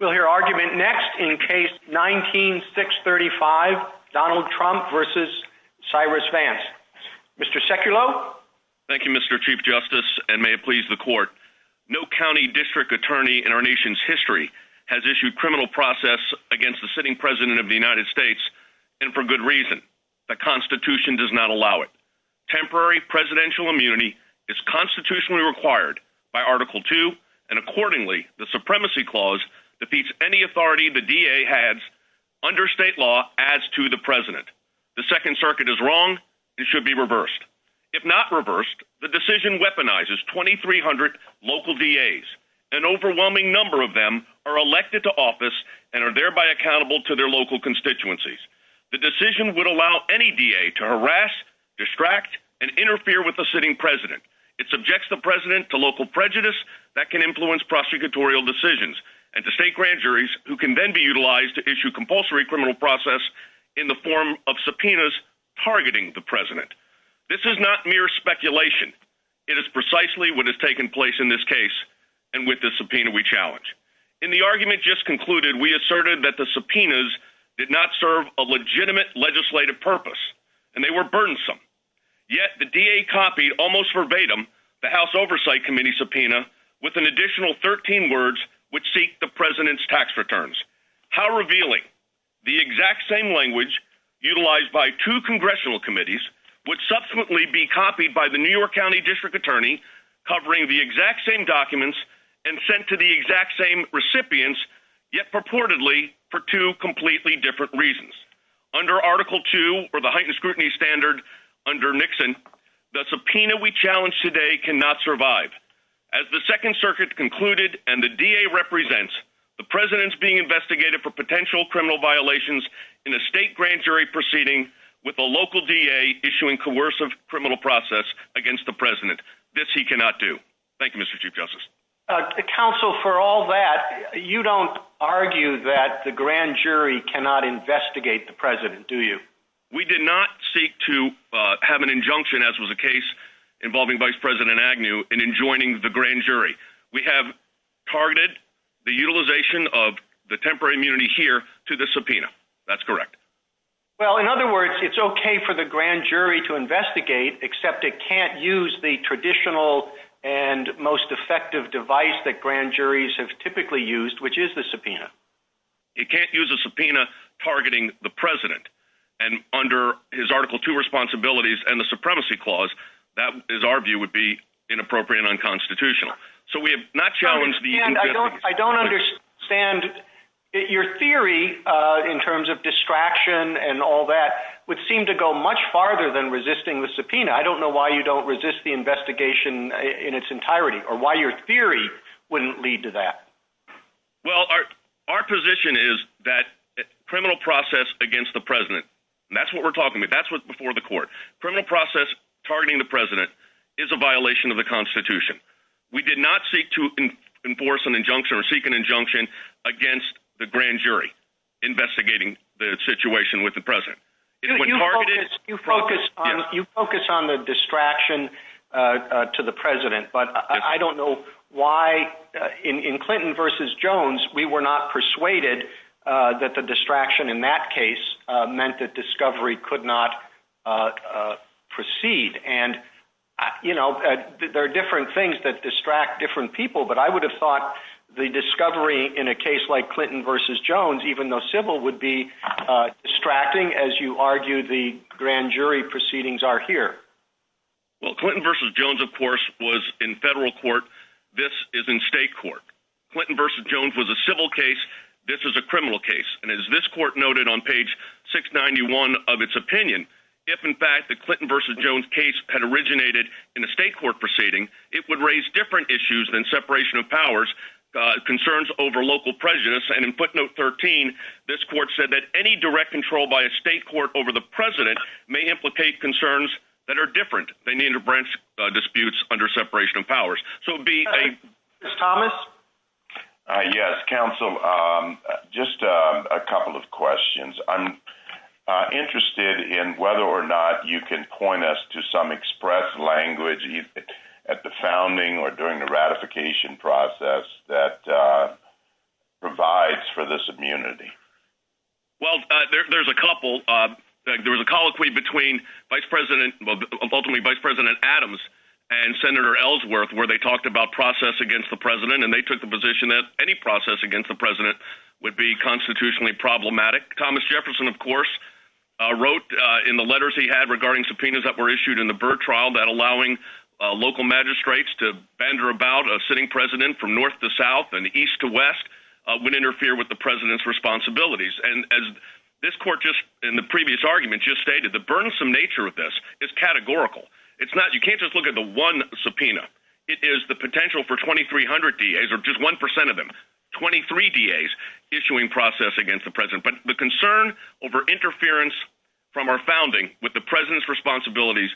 We'll hear argument next in Case 19-635, Donald Trump v. Cyrus Vance. Mr. Sekulow? Thank you, Mr. Chief Justice, and may it please the Court. No county district attorney in our nation's history has issued criminal process against the sitting President of the United States, and for good reason. The Constitution does not allow it. Temporary presidential immunity is constitutionally required by Article II, and accordingly, the Supremacy Clause defeats any authority the DA has under state law as to the President. The Second Circuit is wrong. It should be reversed. If not reversed, the decision weaponizes 2,300 local DAs. An overwhelming number of them are elected to office and are thereby accountable to their local constituencies. The decision would allow any DA to harass, distract, and interfere with the sitting President. It subjects the President to local prejudice that can influence prosecutorial decisions, and to state grand juries who can then be utilized to issue compulsory criminal process in the form of subpoenas targeting the President. This is not mere speculation. It is precisely what has taken place in this case and with this subpoena we challenge. In the argument just concluded, we asserted that the subpoenas did not serve a legitimate legislative purpose, and they were burdensome. Yet the DA copied, almost verbatim, the House Oversight Committee subpoena with an additional 13 words which seek the President's tax returns. How revealing. The exact same language, utilized by two congressional committees, would subsequently be copied by the New York County District Attorney, covering the exact same documents, and sent to the exact same recipients, yet purportedly for two completely different reasons. Under Article II, or the heightened scrutiny standard under Nixon, the subpoena we challenge today cannot survive. As the Second Circuit concluded, and the DA represents, the President is being investigated for potential criminal violations in a state grand jury proceeding with a local DA issuing coercive criminal process against the President. This he cannot do. Thank you, Mr. Chief Justice. Counsel, for all that, you don't argue that the grand jury cannot investigate the President, do you? We did not seek to have an injunction, as was the case involving Vice President Agnew, in enjoining the grand jury. We have targeted the utilization of the temporary immunity here to the subpoena. That's correct. Well, in other words, it's okay for the grand jury to investigate, except it can't use the traditional and most effective device that grand juries have typically used, which is the subpoena. It can't use a subpoena targeting the President, and under his Article II responsibilities and the Supremacy Clause, that, is our view, would be inappropriate and unconstitutional. So we have not challenged the injunction. I don't understand. Your theory, in terms of distraction and all that, would seem to go much farther than resisting the subpoena. I don't know why you don't resist the investigation in its entirety, or why your theory wouldn't lead to that. Well, our position is that criminal process against the President, and that's what we're talking about, that's what's before the court, criminal process targeting the President is a violation of the Constitution. We did not seek to enforce an injunction or seek an injunction against the grand jury investigating the situation with the President. You focus on the distraction to the President, but I don't know why, in Clinton v. Jones, we were not persuaded that the distraction in that case meant that discovery could not proceed. And, you know, there are different things that distract different people, but I would have thought the discovery in a case like Clinton v. Jones, even though civil, would be distracting, as you argue the grand jury proceedings are here. Well, Clinton v. Jones, of course, was in federal court. This is in state court. Clinton v. Jones was a civil case. This is a criminal case. And as this court noted on page 691 of its opinion, if in fact the Clinton v. Jones case had originated in a state court proceeding, it would raise different issues than separation of powers, concerns over local presidents. And in footnote 13, this court said that any direct control by a state court over the President may implicate concerns that are different. They need to branch disputes under separation of powers. So it would be a... Mr. Thomas? Yes, counsel. Just a couple of questions. I'm interested in whether or not you can point us to some express language at the founding or during the ratification process that provides for this immunity. Well, there's a couple. There was a colloquy between ultimately Vice President Adams and Senator Ellsworth where they talked about process against the President and they took the position that any process against the President would be constitutionally problematic. Thomas Jefferson, of course, wrote in the letters he had regarding subpoenas that were issued in the Byrd trial that allowing local magistrates to banter about a sitting president from north to south and east to west would interfere with the President's responsibilities. And as this court in the previous argument just stated, the burdensome nature of this is categorical. You can't just look at the one subpoena. It is the potential for 2,300 DAs or just 1% of them, 23 DAs issuing process against the President. But the concern over interference from our founding with the President's responsibilities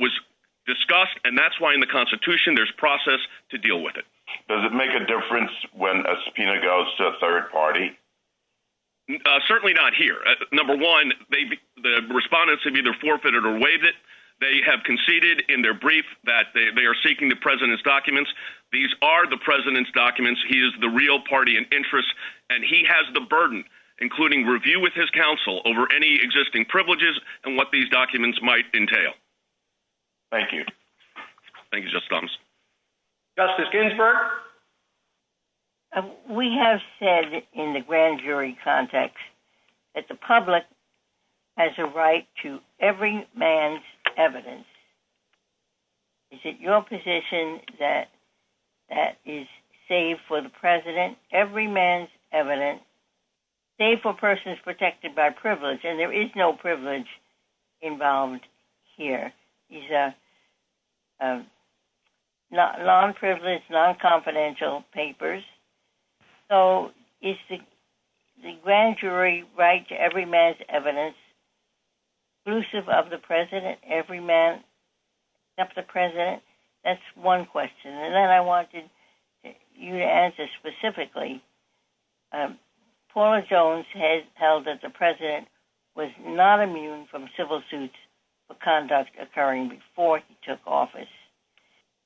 was discussed, and that's why in the Constitution there's process to deal with it. Does it make a difference when a subpoena goes to a third party? Certainly not here. Number one, the respondents have either forfeited or waived it. They have conceded in their brief that they are seeking the President's documents. These are the President's documents. He is the real party in interest, and he has the burden, including review with his counsel over any existing privileges and what these documents might entail. Thank you. Thank you, Justice Thomas. Justice Ginsburg? We have said in the grand jury context that the public has a right to every man's evidence. Is it your position that that is safe for the President, every man's evidence, safe for persons protected by privilege? And there is no privilege involved here. These are non-privileged, non-confidential papers. So is the grand jury right to every man's evidence exclusive of the President, every man except the President? That's one question. And then I wanted you to answer specifically. Paula Jones has held that the President was not immune from civil suits of conduct occurring before he took office.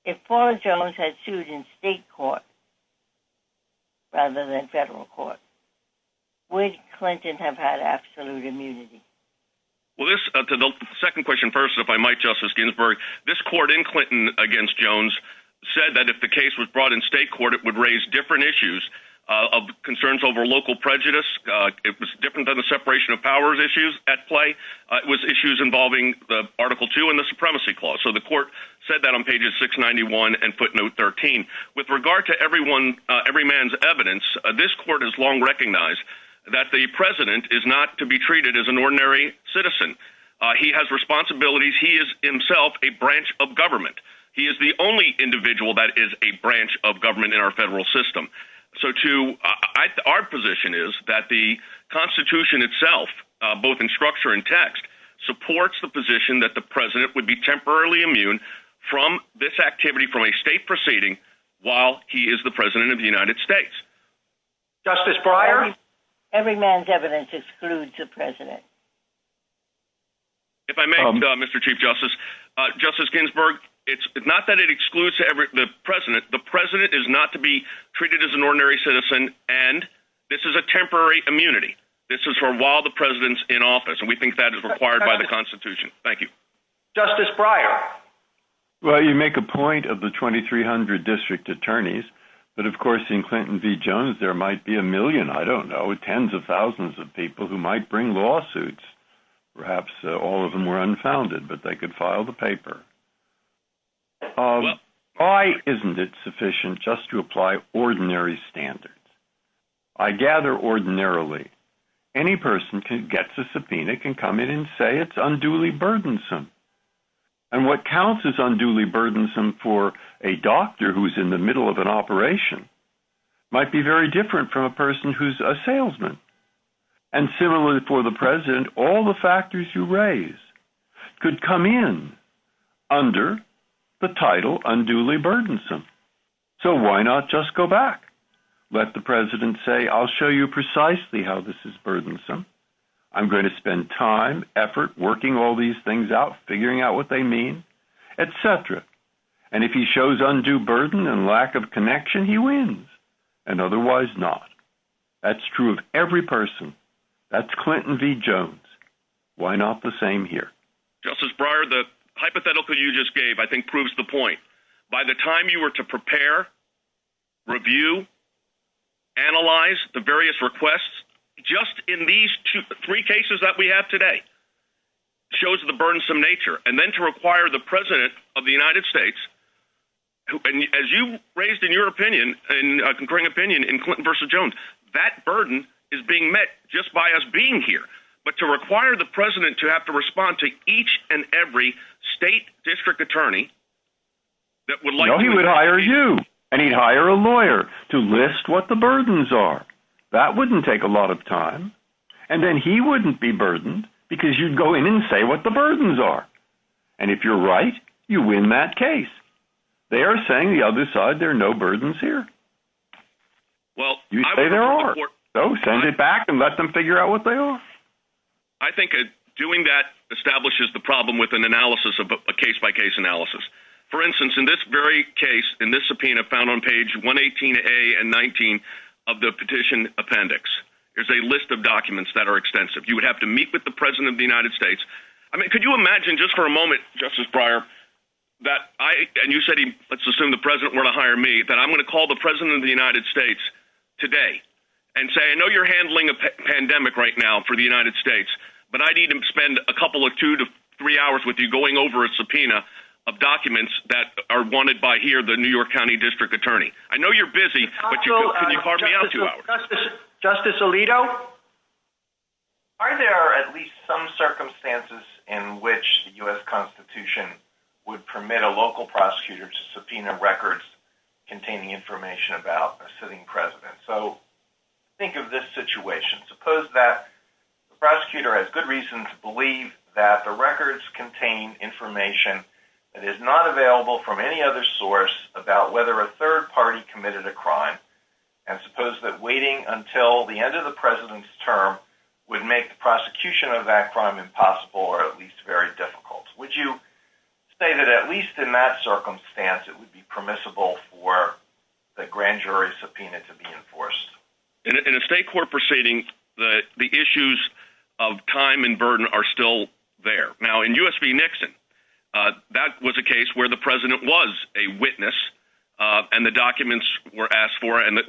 If Paula Jones had sued in state court rather than federal court, would Clinton have had absolute immunity? Well, the second question first, if I might, Justice Ginsburg. This court in Clinton against Jones said that if the case was brought in state court, it would raise different issues. Concerns over local prejudice. It was different than the separation of powers issues at play. It was issues involving the Article 2 and the Supremacy Clause. So the court said that on pages 691 and footnote 13. With regard to every man's evidence, this court has long recognized that the President is not to be treated as an ordinary citizen. He has responsibilities. He is himself a branch of government. He is the only individual that is a branch of government in our federal system. Our position is that the Constitution itself, both in structure and text, supports the position that the President would be temporarily immune from this activity from a state proceeding while he is the President of the United States. Justice Breyer? Every man's evidence excludes the President. If I may, Mr. Chief Justice. Justice Ginsburg, it's not that it excludes the President. The President is not to be treated as an ordinary citizen, and this is a temporary immunity. This is for while the President's in office, and we think that is required by the Constitution. Thank you. Justice Breyer? Well, you make a point of the 2,300 district attorneys, but of course in Clinton v. Jones there might be a million, I don't know, tens of thousands of people who might bring lawsuits. Perhaps all of them were unfounded, but they could file the paper. Why isn't it sufficient just to apply ordinary standards? I gather ordinarily any person who gets a subpoena can come in and say it's unduly burdensome. And what counts as unduly burdensome for a doctor who's in the middle of an operation might be very different from a person who's a salesman. And similarly for the President, all the factors you raise could come in under the title unduly burdensome. So why not just go back? Let the President say, I'll show you precisely how this is burdensome. I'm going to spend time, effort, working all these things out, figuring out what they mean, et cetera. And if he shows undue burden and lack of connection, he wins. And otherwise not. That's true of every person. That's Clinton v. Jones. Why not the same here? Justice Breyer, the hypothetical you just gave I think proves the point. By the time you were to prepare, review, analyze the various requests, just in these three cases that we have today shows the burdensome nature. And then to require the President of the United States, as you raised in your opinion, a concurring opinion in Clinton v. Jones, that burden is being met just by us being here. But to require the President to have to respond to each and every state district attorney that would like to... No, he would hire you. And he'd hire a lawyer to list what the burdens are. That wouldn't take a lot of time. And then he wouldn't be burdened because you'd go in and say what the burdens are. And if you're right, you win that case. They are saying the other side, there are no burdens here. You say there are. So send it back and let them figure out what they are. I think doing that establishes the problem with an analysis of a case-by-case analysis. For instance, in this very case, in this subpoena found on page 118A and 19 of the petition appendix, there's a list of documents that are extensive. You would have to meet with the President of the United States. I mean, could you imagine just for a moment, Justice Breyer, that I, and you said, let's assume the President were to hire me, that I'm going to call the President of the United States today and say, I know you're handling a pandemic right now for the United States, but I need to spend a couple of two to three hours with you going over a subpoena of documents that are wanted by here, the New York County District Attorney. I know you're busy, but can you carve me out two hours? Justice Alito? Are there at least some circumstances in which the U.S. Constitution would permit a local prosecutor to subpoena records containing information about a sitting President? So think of this situation. Suppose that the prosecutor has good reason to believe that the records contain information that is not available from any other source about whether a third party committed a crime and suppose that waiting until the end of the President's term would make the prosecution of that crime impossible or at least very difficult. Would you say that at least in that circumstance it would be permissible for the grand jury subpoena to be enforced? In a state court proceeding the issues of time and burden are still there. Now in U.S. v. Nixon that was a case where the President was a witness and the documents were asked for and in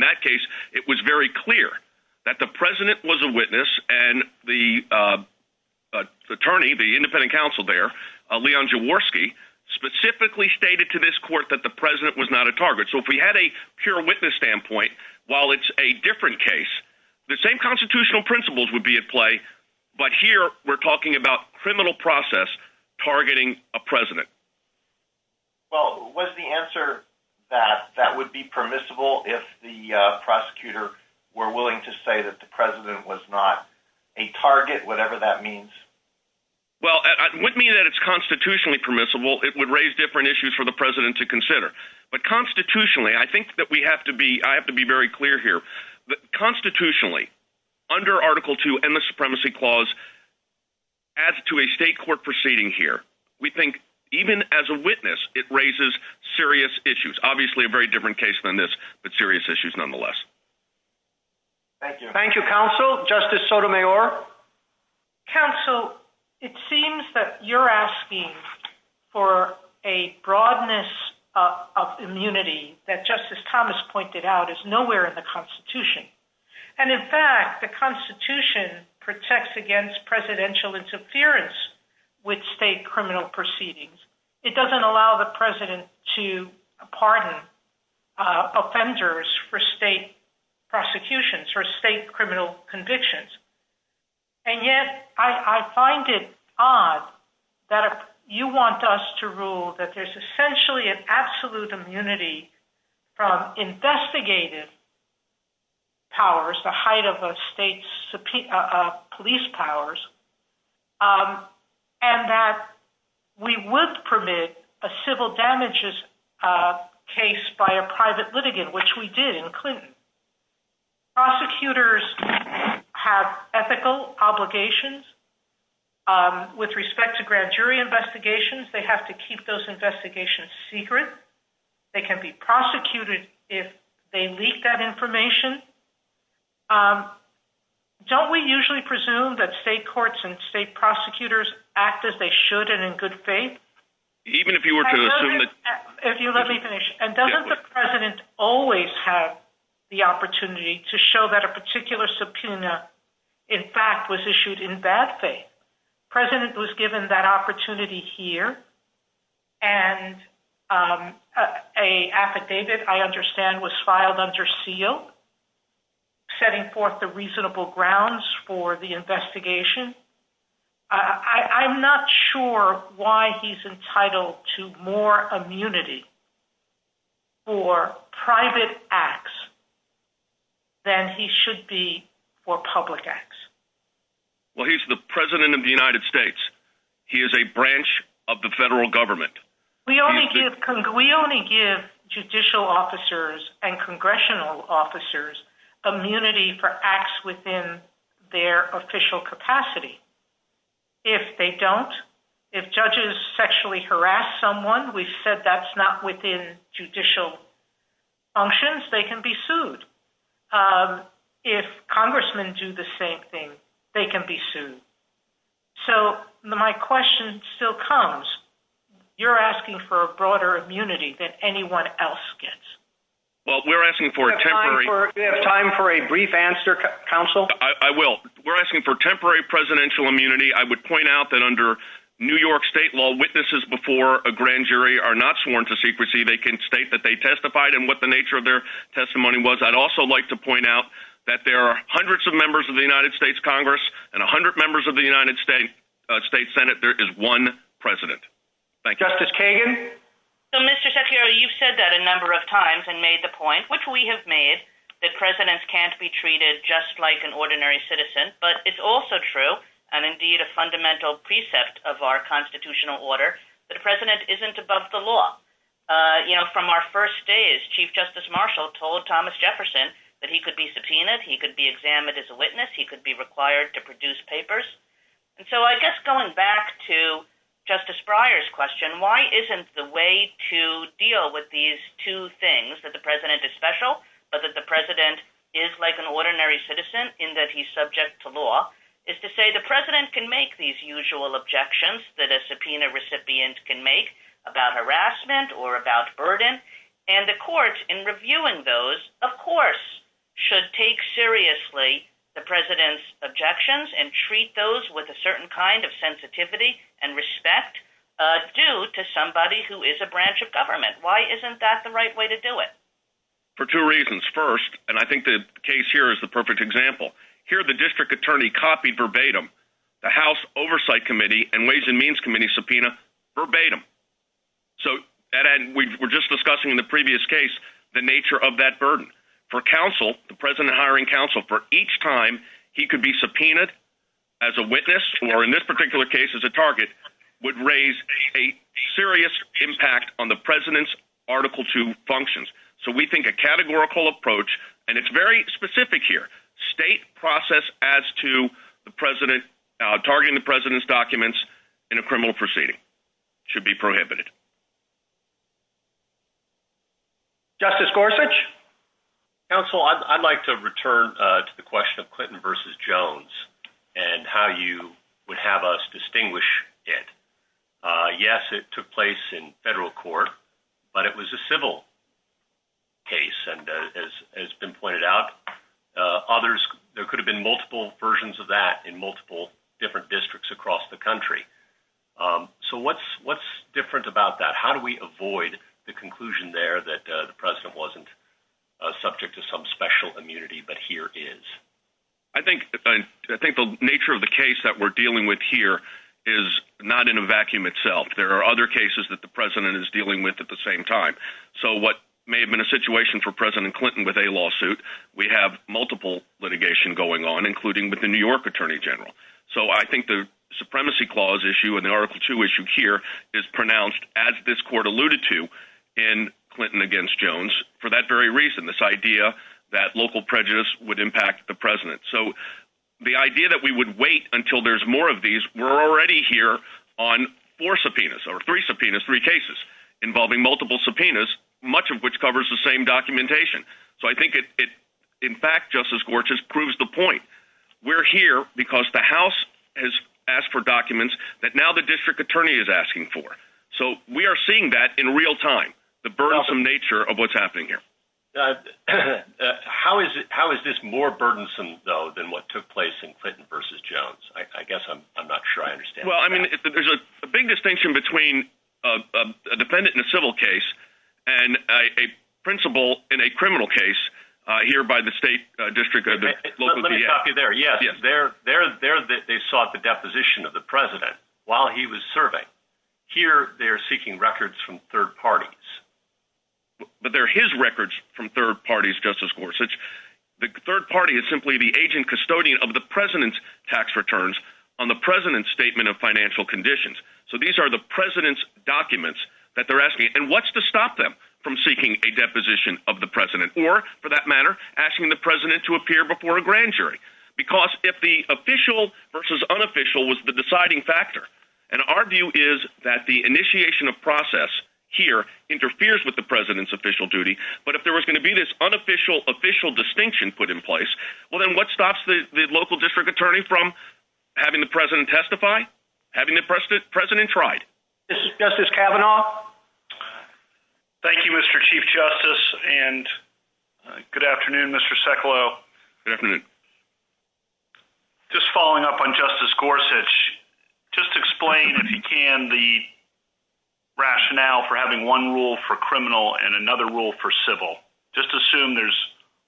that case it was very clear that the President was a witness and the attorney, the independent counsel there Leon Jaworski specifically stated to this court that the President was not a target. So if we had a pure witness standpoint, while it's a different case, the same constitutional principles would be at play but here we're talking about criminal process targeting a President. Well was the answer that that would be permissible if the prosecutor were willing to say that the President was not a target, whatever that means? Well it would mean that it's constitutionally permissible. It would raise different issues for the President to consider but constitutionally I think that we have to be, I have to be very clear here that constitutionally under Article II and the Supremacy Clause as to a state court proceeding here, we think even as a witness it raises serious issues. Obviously a very different case than this but serious issues nonetheless. Thank you Counsel, Justice Sotomayor Counsel it seems that you're asking for a broadness of immunity that Justice Thomas pointed out is nowhere in the Constitution and in fact the Constitution protects against Presidential interference with state criminal proceedings it doesn't allow the President to pardon offenders for state prosecutions or state criminal convictions and yet I find it odd that you want us to rule that there's essentially an absolute immunity from investigative powers, the height of the state's police powers and that we would permit a prosecution to be prosecuted by a private litigant, which we did in Clinton. Prosecutors have ethical obligations with respect to grand jury investigations they have to keep those investigations secret. They can be prosecuted if they leak that information Don't we usually presume that state courts and state prosecutors act as they should and in good faith? Even if you were to assume that... And doesn't the President always have the opportunity to show that a particular subpoena in fact was issued in bad faith? The President was given that opportunity here and an affidavit I understand was filed under seal setting forth the reasonable grounds for the investigation I'm not sure why he's entitled to more immunity for private acts than he should be for public acts Well he's the President of the United States He is a branch of the federal government We only give judicial officers and congressional officers immunity for acts within their official capacity If they don't if judges sexually harass someone, we've said that's not within judicial functions, they can be sued If congressmen do the same thing they can be sued So my question still comes, you're asking for a broader immunity than anyone else gets We're asking for a temporary... I will We're asking for temporary presidential immunity I would point out that under New York state law, witnesses before a grand jury are not sworn to secrecy They can state that they testified and what the nature of their testimony was. I'd also like to point out that there are hundreds of members of the United States Congress and a hundred members of the United States Senate There is one President Justice Kagan? Mr. Shapiro, you've said that a number of times and made the point, which we have made that presidents can't be treated just like an ordinary citizen but it's also true, and indeed a fundamental precept of our constitutional order, that a president isn't above the law From our first days, Chief Justice Marshall told Thomas Jefferson that he could be subpoenaed, he could be examined as a witness he could be required to produce papers So I guess going back to Justice Breyer's question, why isn't the way to deal with these two things that the president is special, but that the president is like an ordinary citizen in that he's subject to law is to say the president can make these usual objections that a subpoena recipient can make about harassment or about burden and the courts in reviewing those of course should take seriously the president's with a certain kind of sensitivity and respect due to somebody who is a branch of government Why isn't that the right way to do it? For two reasons. First, and I think the case here is the perfect example Here the district attorney copied verbatim the House Oversight Committee and Ways and Means Committee subpoena verbatim We were just discussing in the previous case the nature of that burden For counsel, the president hiring counsel, for each time he could be subpoenaed as a witness or in this particular case as a target would raise a serious impact on the president's Article 2 functions So we think a categorical approach and it's very specific here state process as to targeting the president's documents in a criminal proceeding should be prohibited Justice Gorsuch? Counsel, I'd like to return to the question of Clinton vs. Jones and how you would have us distinguish it Yes, it took place in federal court, but it was a civil case and as has been pointed out others, there could have been multiple versions of that in multiple different districts across the country So what's different about that? How do we avoid the conclusion there that the president wasn't subject to some special immunity, but here is? I think the nature of the case that we're dealing with here is not in a vacuum itself. There are other cases that the president is dealing with at the same time So what may have been a situation for President Clinton with a lawsuit we have multiple litigation going on, including with the New York Attorney General So I think the supremacy clause issue and the Article 2 issue here is pronounced as this court alluded to in Clinton vs. Jones for that very reason, this idea that local prejudice would impact the president. So the idea that we would wait until there's more of these, we're already here on four subpoenas, or three subpoenas three cases involving multiple subpoenas, much of which covers the same documentation. So I think in fact, Justice Gorchus proves the point. We're here because the House has asked for documents that now the District Attorney is asking for. So we are seeing that in real time, the burdensome nature of what's happening here How is this more burdensome though than what took place in Clinton vs. Jones? I guess I'm not sure I understand. Well, I mean there's a big distinction between a defendant in a civil case and a principal in a criminal case here by the State District Attorney Let me stop you there. Yes, they're they sought the deposition of the president while he was serving Here, they're seeking records from third parties But they're his records from third parties, Justice Gorchus The third party is simply the agent custodian of the president's tax returns on the president's statement of financial conditions. So these are the president's documents that they're asking. And what's to stop them from seeking a deposition of the president? Or, for that matter asking the president to appear before a grand jury. Because if the official vs. unofficial was the deciding factor, and our view is that the initiation of process here interferes with the president's official duty, but if there was going to be this unofficial official distinction put in place well then what stops the local district attorney from having the president testify? Having the president tried? Justice Kavanaugh Thank you, Mr. Chief Justice and good afternoon Mr. Sekulow. Good afternoon Just following up on Justice Gorsuch just explain, if you can, the rationale for having one rule for criminal and another rule for civil. Just assume there's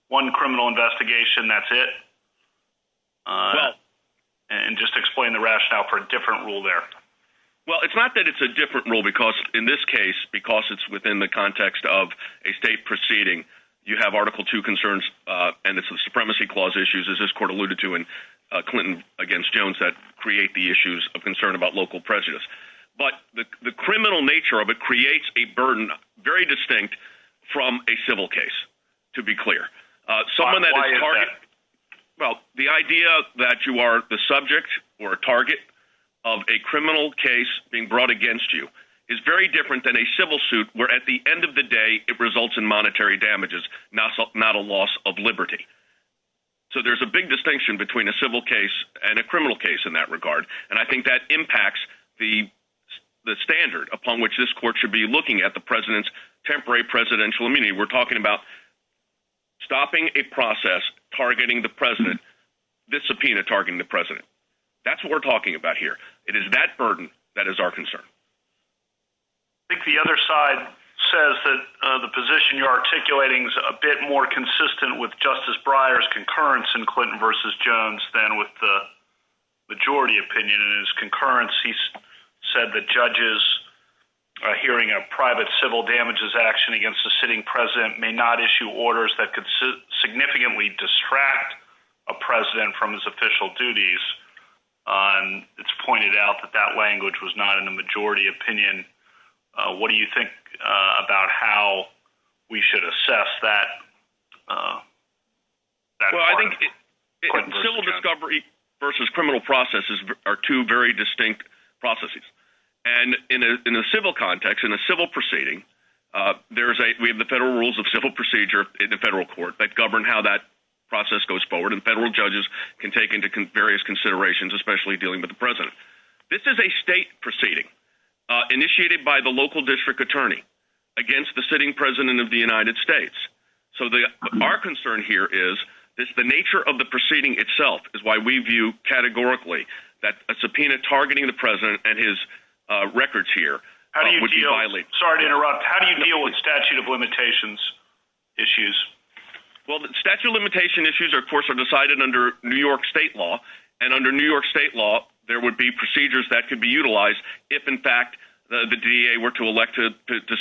one criminal investigation that's it and just explain the rationale for a different rule there Well, it's not that it's a different rule because in this case, because it's within the context of a state proceeding you have Article 2 concerns and it's the Supremacy Clause issues as this court alluded to in Clinton against Jones that create the issues of concern about local prejudice. But the criminal nature of it creates a burden very distinct from a civil case to be clear. Someone that Well, the idea that you are the subject or target of a criminal case being brought against you is very different than a civil suit where at the end of the day it results in monetary damages, not a loss of liberty. So there's a big distinction between a civil case and a criminal case in that regard and I think that the standard upon which this court should be looking at the president's temporary presidential immunity. We're talking about targeting the president, this subpoena targeting the president. That's what we're talking about here. It is that burden that is our concern. I think the other side says that the position you're articulating is a bit more consistent with Justice Breyer's concurrence in Clinton versus Jones than with the majority opinion. In his opinion, judges hearing a private civil damages action against a sitting president may not issue orders that could significantly distract a president from his official duties and it's pointed out that that language was not in the majority opinion. What do you think about how we should assess that part? Civil discovery versus criminal processes are two very distinct processes and in a civil context, in a civil proceeding, we have the federal rules of civil procedure in the federal court that govern how that process goes forward and federal judges can take into various considerations especially dealing with the president. This is a state proceeding initiated by the local district attorney against the sitting president of the United States. Our concern here is the nature of the proceeding itself is why we view categorically that subpoena targeting the president and his records here. How do you deal with statute of limitations issues? Statute of limitations issues are decided under New York state law and under New York state law, there would be procedures that could be utilized if in fact the DA were to elect to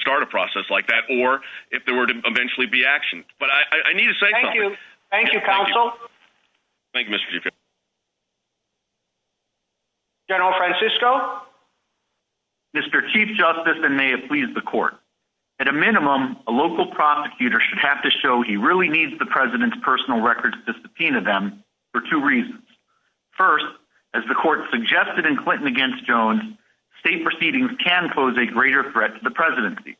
start a process like that or if there were to eventually be action. Thank you. Thank you, counsel. Thank you, Mr. Duke. General Francisco? Mr. Chief Justice, and may it please the court, at a minimum, a local prosecutor should have to show he really needs the president's personal records to subpoena them for two reasons. First, as the court suggested in Clinton against Jones, state proceedings can pose a greater threat to the presidency.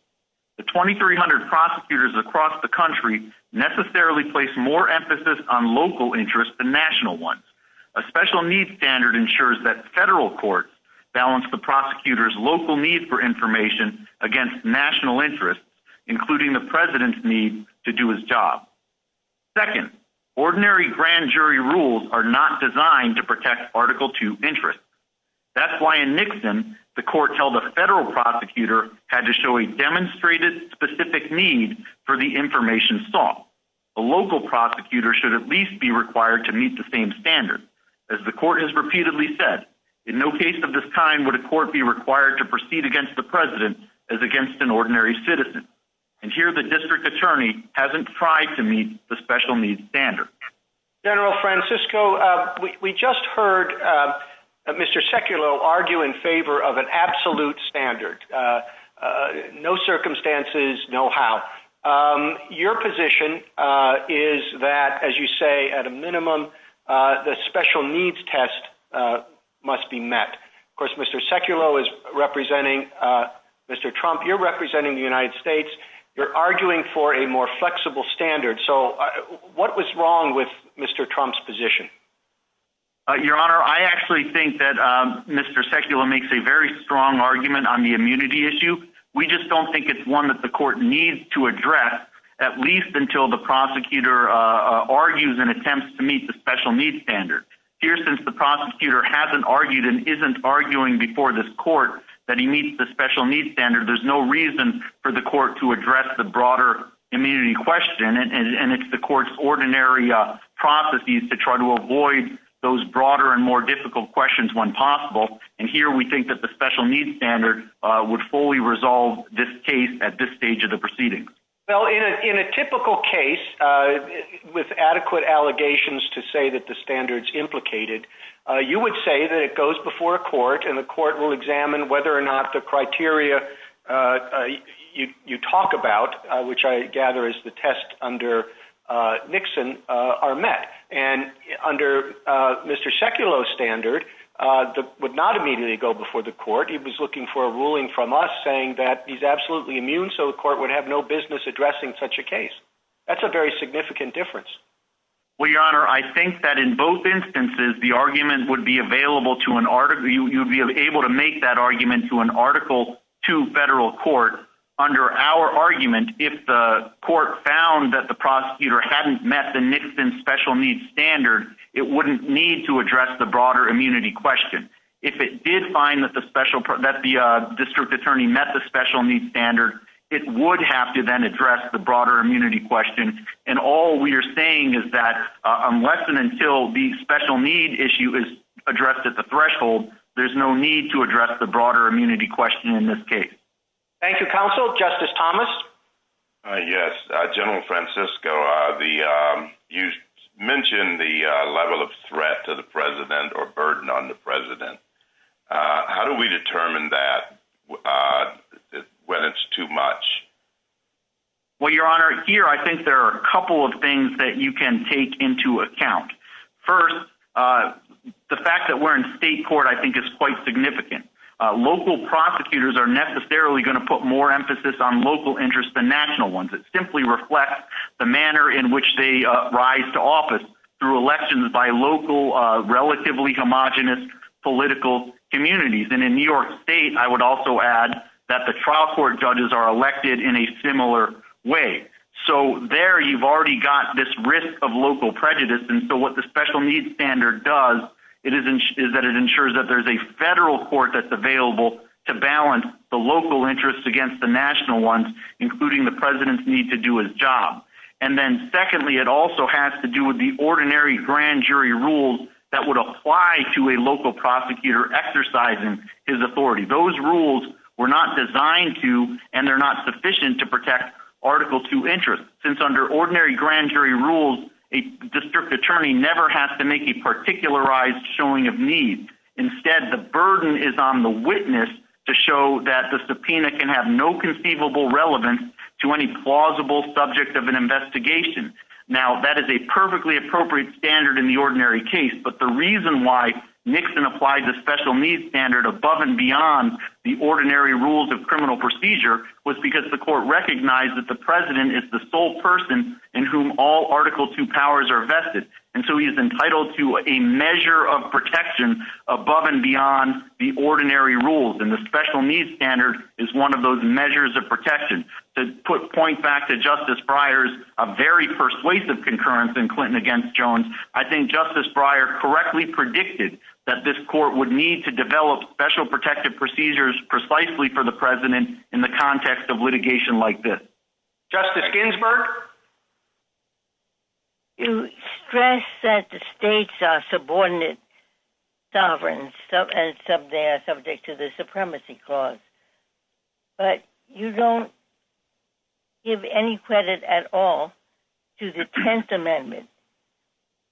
The 2300 prosecutors across the country have a greater emphasis on local interests than national ones. A special needs standard ensures that federal courts balance the prosecutor's local need for information against national interests, including the president's need to do his job. Second, ordinary grand jury rules are not designed to protect Article 2 interests. That's why in Nixon, the court held a federal prosecutor had to show a demonstrated specific need for the information sought. A local prosecutor should at least be required to meet the same standard. As the court has repeatedly said, in no case of this time would a court be required to proceed against the president as against an ordinary citizen. And here the district attorney hasn't tried to meet the special needs standard. General Francisco, we just heard Mr. Sekulow argue in favor of an absolute standard. No circumstances, no how. Your position is that, as you say, at a minimum, the special needs test must be met. Of course, Mr. Sekulow is representing Mr. Trump. You're representing the United States. You're arguing for a more flexible standard. So what was wrong with Mr. Trump's position? Your Honor, I actually think that Mr. Sekulow makes a very strong argument on the immunity issue. We just don't think it's one that the court needs to address, at least until the prosecutor argues and attempts to meet the special needs standard. Here, since the prosecutor hasn't argued and isn't arguing before this court that he meets the special needs standard, there's no reason for the court to address the broader immunity question, and it's the court's ordinary processes to try to avoid those broader and more difficult questions when possible. And here, we think that the special needs standard would fully resolve this case at this stage of the proceedings. Well, in a typical case, with adequate allegations to say that the standard's implicated, you would say that it goes before a court and the court will examine whether or not the criteria you talk about, which I gather is the test under Nixon, are met. And under Mr. Sekulow's standard, it would not immediately go before the court. He was looking for a ruling from us saying that he's absolutely immune so the court would have no business addressing such a case. That's a very significant difference. Well, Your Honor, I think that in both instances, the argument would be available to an article you'd be able to make that argument to an article to federal court. Under our argument, if the court found that the prosecutor hadn't met the Nixon special needs standard, it wouldn't need to address the broader immunity question. If it did find that the district attorney met the special needs standard, it would have to then address the broader immunity question. And all we are saying is that unless and until the special need issue is addressed at the threshold, there's no need to address the broader immunity question in this case. Thank you, Counsel. Justice Thomas? Yes. General Francisco, you mentioned the level of threat to the President or burden on the President. How do we determine that when it's too much? Well, Your Honor, here I think there are a couple of things that you can take into account. First, the fact that we're in state court I think is quite significant. Local prosecutors are necessarily going to put more emphasis on local interests than national ones. It simply reflects the manner in which they rise to office through elections by local relatively homogenous political communities. And in New York State, I would also add that the trial court judges are elected in a similar way. So there you've already got this risk of local prejudice. And so what the special needs standard does is that it ensures that there's a federal court that's available to balance the local interests against the national ones, including the President's need to do his job. And then secondly, it also has to do with the ordinary grand jury rules that would apply to a local prosecutor exercising his authority. Those rules were not designed to and they're not sufficient to protect Article II interests. Since under ordinary grand jury rules, a district attorney never has to make a particularized showing of need. Instead, the burden is on the witness to show that the subpoena can have no conceivable relevance to any plausible subject of an investigation. Now, that is a perfectly appropriate standard in the ordinary case, but the reason why Nixon applies a special needs standard above and beyond the ordinary rules of criminal procedure was because the court recognized that the President is the sole person in whom all Article II powers are vested. And so he is entitled to a measure of protection above and beyond the ordinary rules. And the special needs standard is one of those measures of protection. To point back to Justice Breyer's very persuasive concurrence in Clinton against Jones, I think Justice Breyer correctly predicted that this court would need to develop special protective procedures precisely for the President in the context of litigation like this. Justice Ginsburg? You stress that the states are subordinate sovereigns and they are subject to the supremacy clause, but you don't give any credit at all to the Tenth Amendment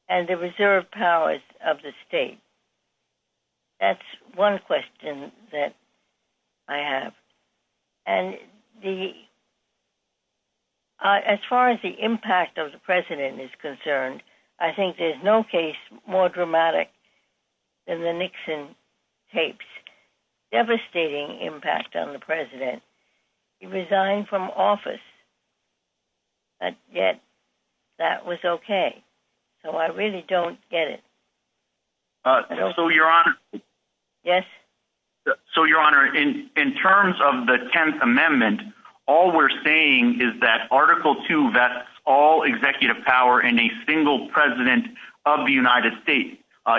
and the reserved powers of the state. That's one question that I have. And the... As far as the impact of the President is concerned, I think there's no case more dramatic than the Nixon tapes. Devastating impact on the President. He resigned from office but yet that was okay. So I really don't get it. So, Your Honor... Yes? So, Your Honor, in terms of the Tenth Amendment, all we're saying is that Article II vests all executive power in a single President of the United States.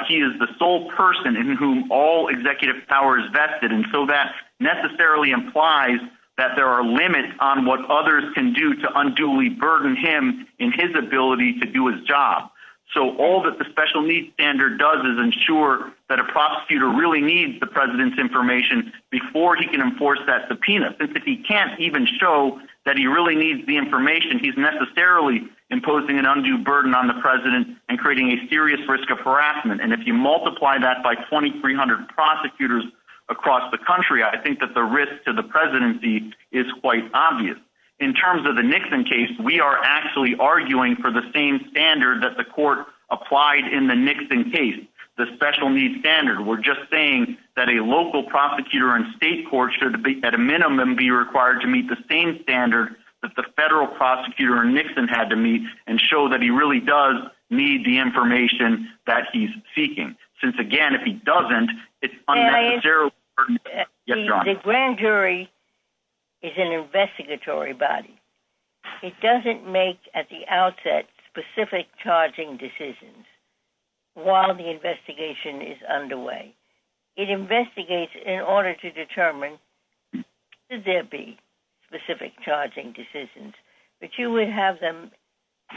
He is the sole person in whom all executive power is vested, and so that necessarily implies that there are limits on what others can do to unduly burden him in his ability to do his job. So all that the special needs standard does is ensure that a prosecutor really needs the President's information before he can enforce that subpoena, since if he can't even show that he really needs the information, he's necessarily imposing an undue burden on the President and creating a serious risk of harassment. And if you multiply that by 2,300 prosecutors across the country, I think that the risk to the Presidency is quite obvious. In terms of the Nixon case, we are actually arguing for the same standard that the Court applied in the Nixon case, the special needs standard. We're just saying that a local prosecutor in state court should at a minimum be required to meet the same standard that the federal prosecutor in Nixon had to meet and show that he really does need the information that he's seeking. Since, again, if he doesn't, it's unnecessarily burdened. The grand jury is an investigatory body. It doesn't make at the outset specific charging decisions while the investigation is underway. It investigates in order to determine should there be specific charging decisions. But you would have them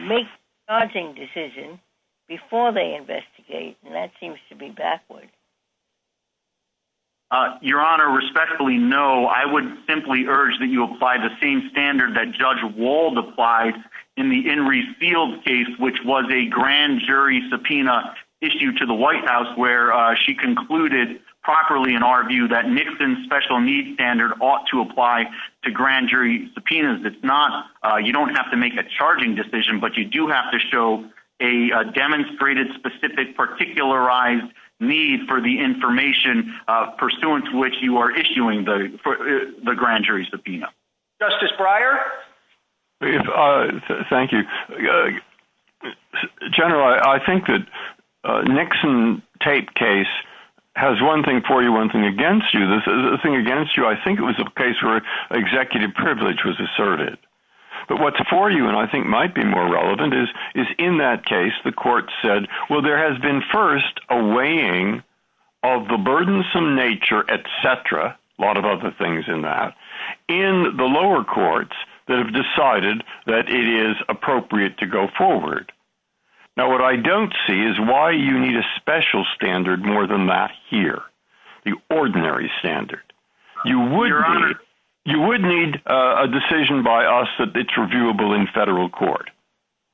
make charging decisions before they investigate, and that seems to be backward. Your Honor, respectfully, no. I would simply urge that you apply the same standard that Judge Wald applied in the Henry Field case, which was a grand jury subpoena issue to the White House where she concluded properly in our view that Nixon's special needs standard ought to apply to grand jury subpoenas. You don't have to make a charging decision, but you do have to show a demonstrated, specific, particularized need for the information pursuant to which you are issuing the grand jury subpoena. Justice Breyer? Thank you. General, I think that Nixon tape case has one thing for you, one thing against you. I think it was a case where executive privilege was asserted. But what's for you, and I think might be more relevant, is in that case the court said, well, there has been first a weighing of the burdensome nature, et cetera, a lot of other things in that, in the lower courts that have decided that it is appropriate to go forward. Now, what I don't see is why you need a special standard more than that here, the ordinary standard. You would need a decision by us that it's reviewable in federal court.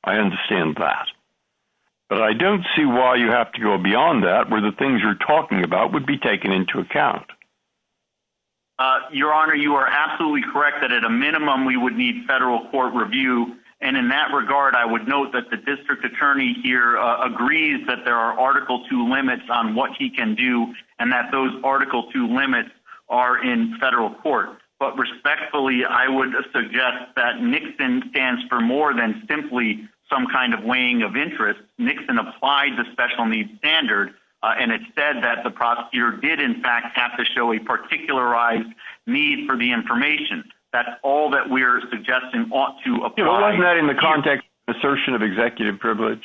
I understand that. But I don't see why you have to go beyond that, where the things you're talking about would be taken into account. Your Honor, you are absolutely correct that at a minimum we would need federal court review, and in that regard I would note that the district attorney here agrees that there are Article 2 limits on what he can do, and that those Article 2 limits are in federal court. But respectfully, I would suggest that Nixon stands for more than simply some kind of weighing of interest. Nixon applied the special needs standard, and it said that the prosecutor did in fact have to show a particularized need for the information. That's all that we're suggesting ought to apply. Wasn't that in the context of an assertion of executive privilege?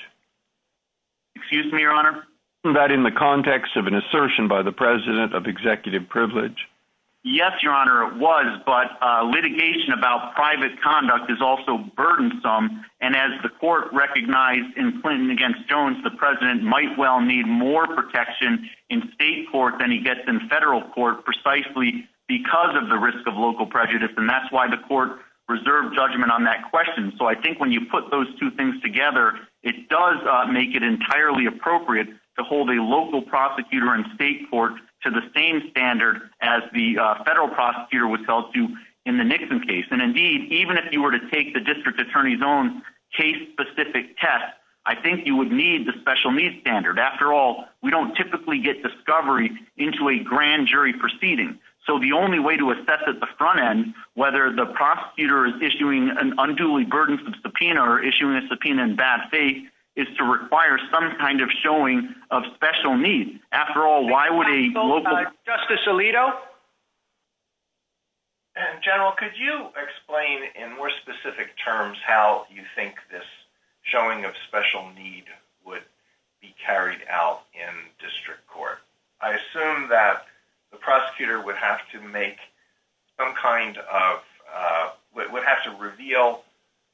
Excuse me, Your Honor? Wasn't that in the context of an assertion by the president of executive privilege? Yes, Your Honor, it was, but litigation about private conduct is also burdensome, and as the court recognized in Clinton against Jones, the president might well need more protection in state court than he gets in federal court precisely because of the risk of local prejudice, and that's why the court reserved judgment on that question. So I think when you put those two things together, it does make it entirely appropriate to hold a local prosecutor in state court to the same standard as the federal prosecutor would tell you in the Nixon case. And indeed, even if you were to take the district attorney's own case-specific test, I think you would need the special needs standard. After all, we don't typically get discovery into a grand jury proceeding. So the only way to prove that the prosecutor is issuing an unduly burdensome subpoena or issuing a subpoena in bad faith is to require some kind of showing of special needs. After all, why would a local... Justice Alito? And, General, could you explain in more specific terms how you think this showing of special need would be carried out in district court? I assume that the prosecutor would have to make some kind of...would have to reveal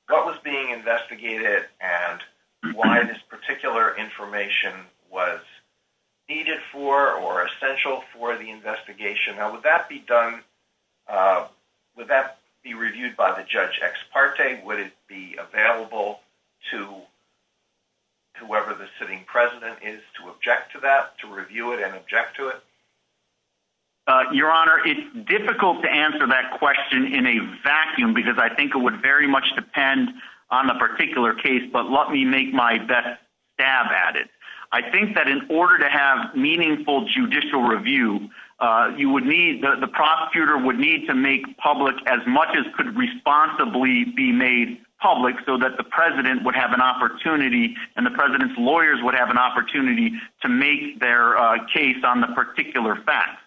what was being investigated and why this particular information was needed for or essential for the investigation. Now, would that be done... would that be reviewed by the judge ex parte? Would it be available to whoever the sitting president is to object to that, to review it and object to it? Your Honor, it's difficult to answer that question in a vacuum because I think it would very much depend on a particular case, but let me make my best stab at it. I think that in order to have meaningful judicial review, you would need...the prosecutor would need to make public as much as could responsibly be made public so that the president would have an opportunity and the president's lawyers would have an opportunity to make their case on the particular facts.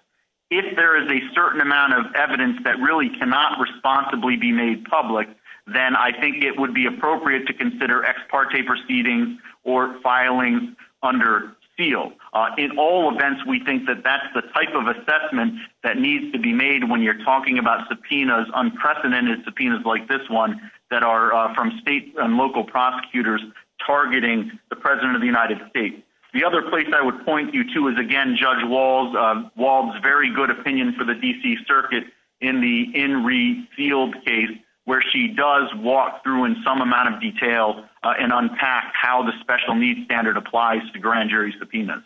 If there is a certain amount of evidence that really cannot responsibly be made public, then I think it would be appropriate to consider ex parte proceedings or filings under seal. In all events, we think that that's the type of assessment that needs to be made when you're talking about subpoenas, unprecedented subpoenas like this one, that are from state and local prosecutors targeting the president of the United States. The other place I would point you to is again Judge Wald's very good opinion for the D.C. Circuit in the Enri Field case where she does walk through in some amount of detail and unpack how the special needs standard applies to grand jury subpoenas.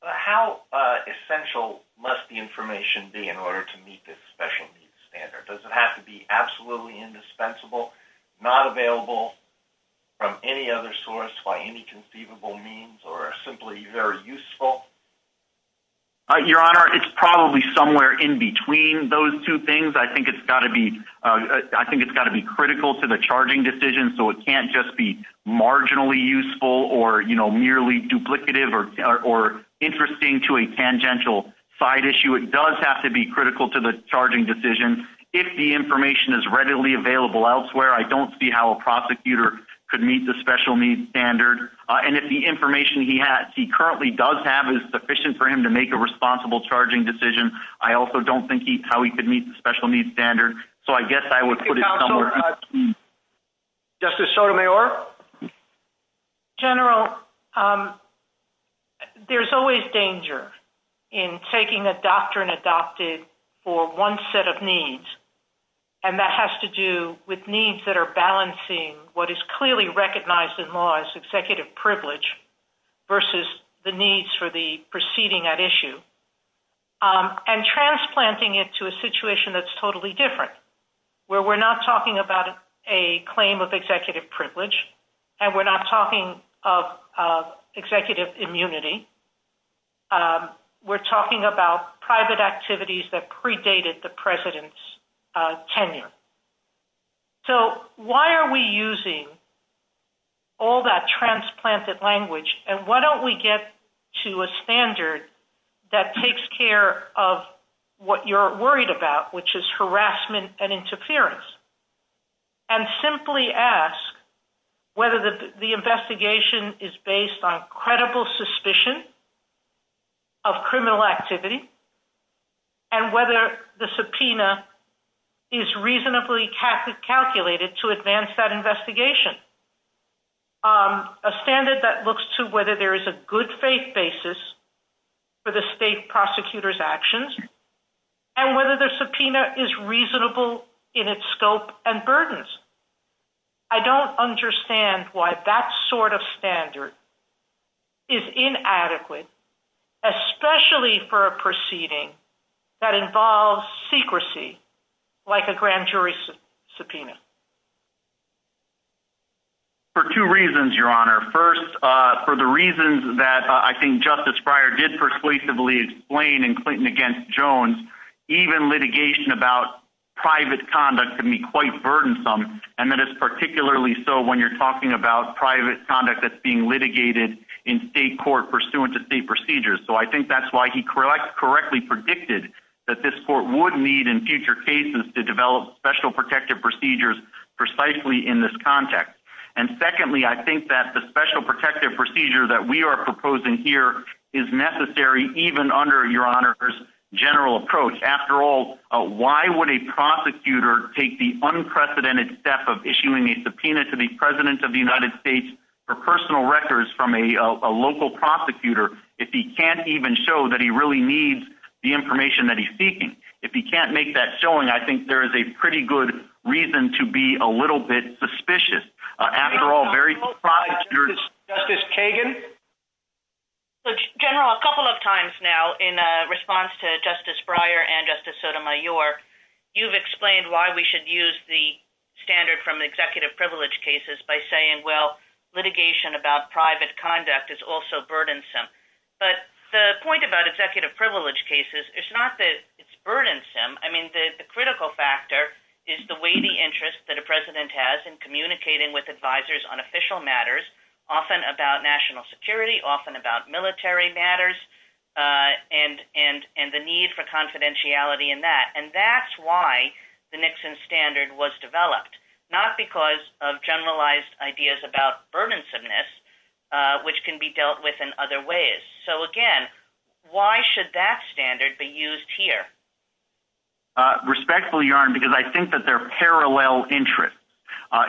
How essential must the information be in order to meet this special needs standard? Does it have to be absolutely indispensable, not available from any other source by any conceivable means or simply very useful? Your Honor, it's probably somewhere in between those two things. I think it's got to be critical to the charging decision so it can't just be marginally useful or merely duplicative or interesting to a tangential side issue. It does have to be critical to the charging decision. If the information is readily available elsewhere, I don't see how a prosecutor could meet the special needs standard. If the information he currently does have is sufficient for him to make a responsible charging decision, I also don't think how he could meet the special needs standard. I guess I would put it somewhere between. Justice Sotomayor? General, there's always danger in taking a doctrine adopted for one set of needs and that has to do with needs that are balancing what is clearly recognized in law as executive privilege versus the needs for the proceeding at issue and transplanting it to a situation that's totally different where we're not talking about a claim of executive privilege and we're not talking of executive immunity. We're talking about private activities that predated the president's tenure. Why are we using all that transplanted language and why don't we get to a standard that takes care of what you're worried about which is harassment and interference and simply ask whether the investigation is based on credible suspicion of criminal activity and whether the subpoena is reasonably calculated to advance that investigation. A standard that looks to whether there is a good faith basis for the state prosecutor's actions and whether the subpoena is reasonable in its scope and burdens. I don't understand why that sort of standard is inadequate especially for a proceeding that involves secrecy like a grand jury subpoena. For two reasons, Your Honor. First, for the reasons that I think Justice Breyer did persuasively explain in Clinton against Jones, even litigation about private conduct can be quite burdensome and that is particularly so when you're talking about private conduct that's being litigated in state court pursuant to state procedures. So I think that's why he correctly predicted that this court would need in future cases to develop special protective procedures precisely in this context. And secondly, I think that the special protective procedure that we are proposing here is necessary even under Your Honor's general approach. After all, why would a prosecutor take the unprecedented step of issuing a subpoena to the President of the United States for personal records from a local prosecutor if he can't even show that he really needs the information that he's seeking? If he can't make that showing, I think there is a pretty good reason to be a little bit suspicious. After all, very surprised... Justice Kagan? General, a couple of times now in response to Justice Breyer and Justice Sotomayor, you've explained why we should use the standard from litigation about private conduct is also burdensome. But the point about executive privilege cases, it's not that it's burdensome. I mean, the critical factor is the weighty interest that a President has in communicating with advisors on official matters, often about national security, often about military matters, and the need for confidentiality in that. And that's why the Nixon standard was developed. Not because of generalized ideas about burdensomeness, which can be dealt with in other ways. Again, why should that standard be used here? Respectfully, Your Honor, because I think that they're parallel interests.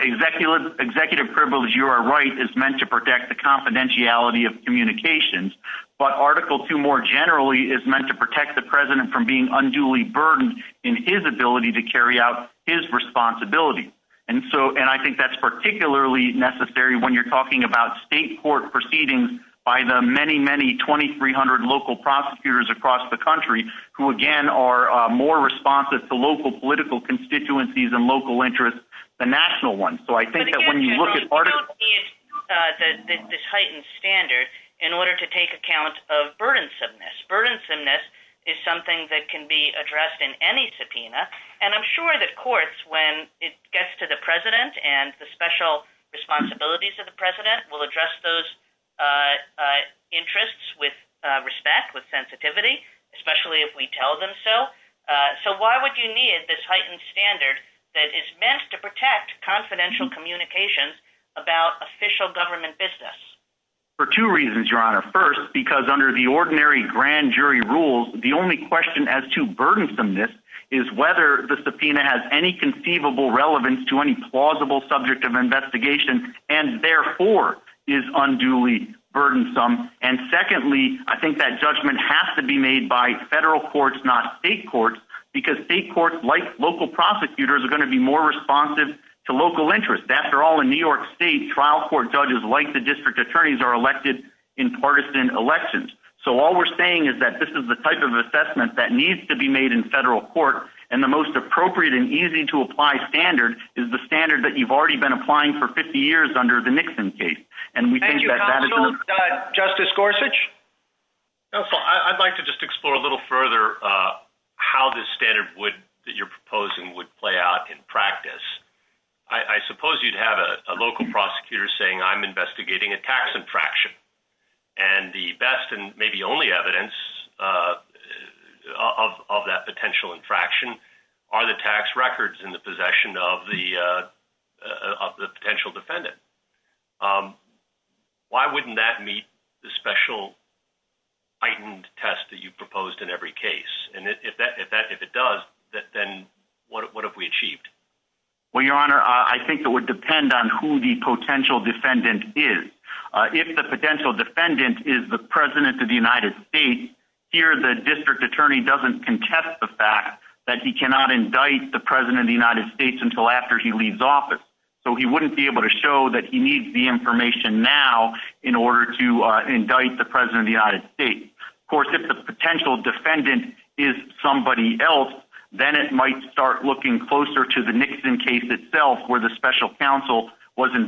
Executive privilege, you are right, is meant to protect the confidentiality of communications, but Article II more generally is meant to protect the President from being unduly burdened in his ability to carry out his responsibilities. And I think that's particularly necessary when you're talking about state court proceedings by the many, many 2,300 local prosecutors across the country who, again, are more responsive to local political constituencies and local interests than national ones. So I think that when you look at Article II... ...this heightened standard in order to take account of burdensomeness. Burdensomeness is something that can be addressed in any subpoena. And I'm sure that courts, when it gets to the President and the special responsibilities of the President, will address those interests with respect, with sensitivity, especially if we tell them so. So why would you need this heightened standard that is meant to protect confidential communications about official government business? For two reasons, Your Honor. First, because under the ordinary grand jury rules, the only question as to burdensomeness is whether the subpoena has any conceivable relevance to any plausible subject of investigation, and therefore is unduly burdensome. And secondly, I think that judgment has to be made by federal courts, not state courts, because state courts, like local prosecutors, are going to be more responsive to local interests. After all, in New York State, trial court judges, like the district attorneys, are elected in partisan elections. So all we're saying is that this is the type of assessment that needs to be made in federal court, and the most appropriate and easy-to-apply standard is the standard that you've already been applying for 50 years under the Nixon case. And we think that... Thank you. Counsel, Justice Gorsuch? Counsel, I'd like to just explore a little further how this standard that you're proposing would play out in practice. I suppose you'd have a local prosecutor saying, I'm investigating a tax infraction. And the best and maybe only evidence of that potential infraction are the tax records in the possession of the potential defendant. Why wouldn't that meet the special heightened test that you proposed in every case? And if it does, then what have we achieved? Well, Your Honor, I think it would depend on who the potential defendant is. If the potential defendant is the President of the United States, here the district attorney doesn't contest the fact that he cannot indict the President of the United States until after he leaves office. So he wouldn't be able to show that he needs the information now in order to indict the President of the United States. Of course, if the potential defendant is somebody else, then it might start looking closer to the Nixon case itself where the special counsel was involved. So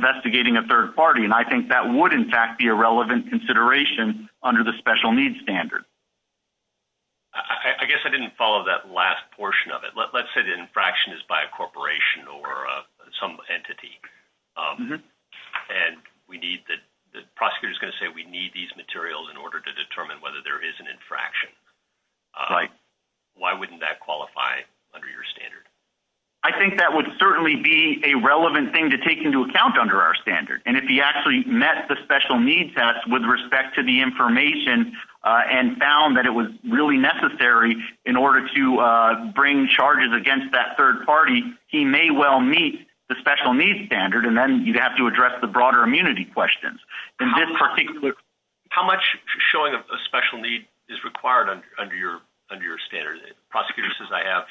that would, in fact, be a relevant consideration under the special needs standard. I guess I didn't follow that last portion of it. Let's say the infraction is by a corporation or some entity and the prosecutor is going to say we need these materials in order to determine whether there is an infraction. Why wouldn't that qualify under your standard? I think that would certainly be a relevant thing to take into account under our standard. And if he actually met the special needs test with respect to the information and found that it was really necessary in order to bring charges against that third party, he may well meet the special needs standard and then you'd have to address the broader immunity questions. And this particular... How much showing a special need is required under your standard? The prosecutor says I have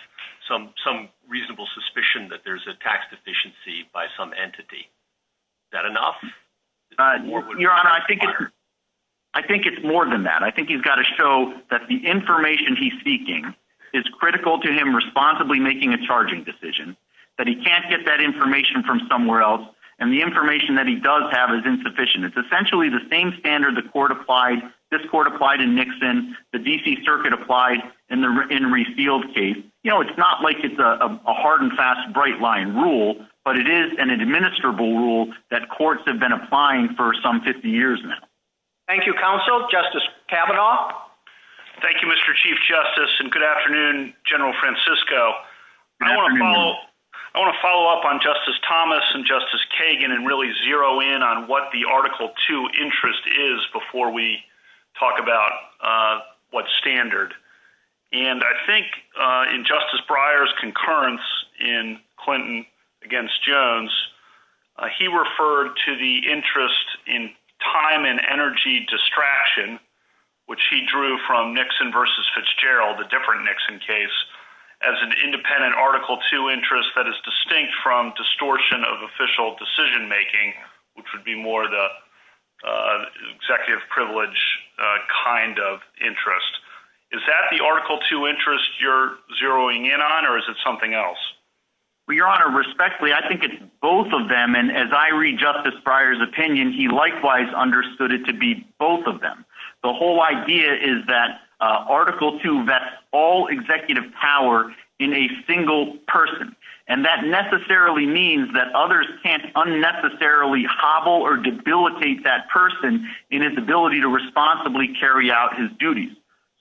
some reasonable suspicion that there's a tax deficiency by some entity. Is that enough? Your Honor, I think it's more than that. I think he's got to show that the information he's seeking is critical to him responsibly making a charging decision. That he can't get that information from somewhere else and the information that he does have is insufficient. It's essentially the same standard the court applied, this court applied in Nixon, the D.C. Circuit applied in Refield's case. It's not like it's a hard and fast bright line rule, but it is an administrable rule that courts have been applying for some 50 years now. Thank you, counsel. Justice Kavanaugh? Thank you, Mr. Chief Justice and good afternoon, General Francisco. Good afternoon. I want to follow up on Justice Thomas and Justice Kagan and really zero in on what the Article 2 interest is before we talk about what standard. I think in Justice Breyer's concurrence in Clinton against Jones, he referred to the interest in time and energy distraction, which he drew from Nixon versus Fitzgerald, a different Nixon case, as an independent Article 2 interest that is distinct from distortion of official decision making, which would be more the executive privilege kind of interest. Is that the Article 2 interest you're zeroing in on, or is it something else? Your Honor, respectfully, I think it's both of them, and as I read Justice Breyer's opinion, he likewise understood it to be both of them. The whole idea is that Article 2 vests all executive power in a single person, and that necessarily means that others can't unnecessarily hobble or debilitate that person in his ability to responsibly carry out his duties.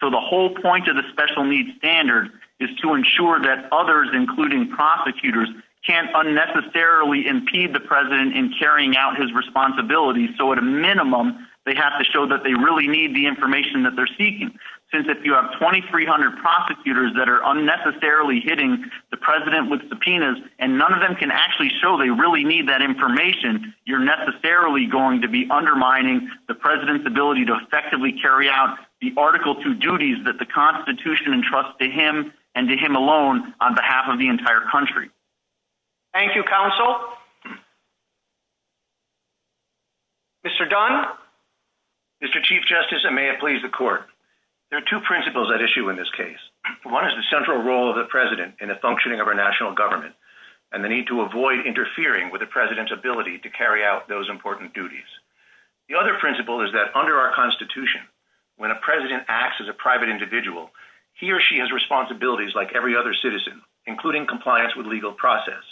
So the whole point of the special needs standard is to ensure that others, including prosecutors, can't unnecessarily impede the President in carrying out his responsibilities, so at a minimum they have to show that they really need the information that they're seeking, since if you have 2,300 prosecutors that are unnecessarily hitting the President with subpoenas, and none of them can actually show they really need that information, you're necessarily going to be unable to effectively carry out the Article 2 duties that the Constitution entrusted him and did him alone on behalf of the entire country. Thank you, Counsel. Mr. Dunn? Mr. Chief Justice, and may it please the Court, there are two principles at issue in this case. One is the central role of the President in the functioning of our national government, and the need to avoid interfering with the President's ability to carry out those important duties. The other principle is that under our Constitution, when a President acts as a private individual, he or she has responsibilities like every other citizen, including compliance with legal process.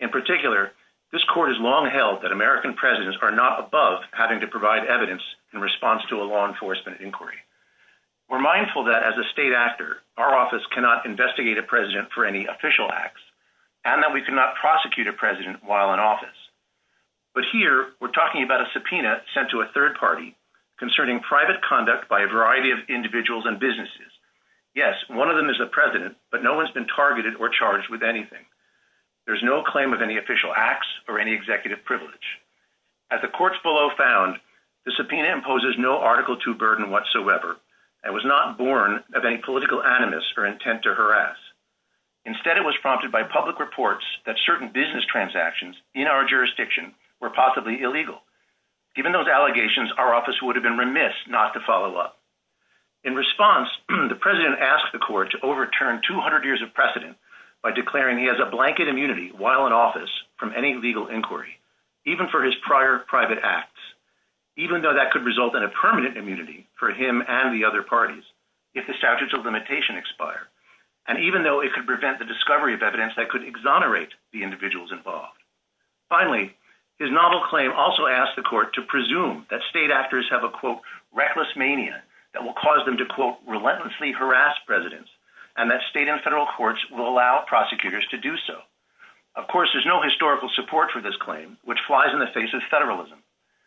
In particular, this Court has long held that American Presidents are not above having to provide evidence in response to a law enforcement inquiry. We're mindful that as a state actor, our office cannot investigate a President for any official acts, and that we cannot prosecute a President while in office. But here, we're talking about a subpoena sent to a third party concerning private conduct by a variety of individuals and businesses. Yes, one of them is a President, but no one's been targeted or charged with anything. There's no claim of any official acts or any executive privilege. As the Courts below found, the subpoena imposes no Article II burden whatsoever, and was not born of any political animus or intent to harass. Instead, it was prompted by public reports that certain business transactions in our jurisdiction were possibly illegal. Given those allegations, our office would have been remiss not to follow up. In response, the President asked the Court to overturn 200 years of precedent by declaring he has a blanket immunity while in office from any legal inquiry, even for his prior private acts, even though that could result in a permanent immunity for him and the other parties if the statutes of limitation expire, and even though it could prevent the discovery of evidence that could exonerate the individuals involved. Finally, his novel claim also asked the Court to presume that state actors have a quote, reckless mania that will cause them to quote, relentlessly harass Presidents, and that state and federal courts will allow prosecutors to do so. Of course, there's no historical support for this claim, which flies in the face of federalism.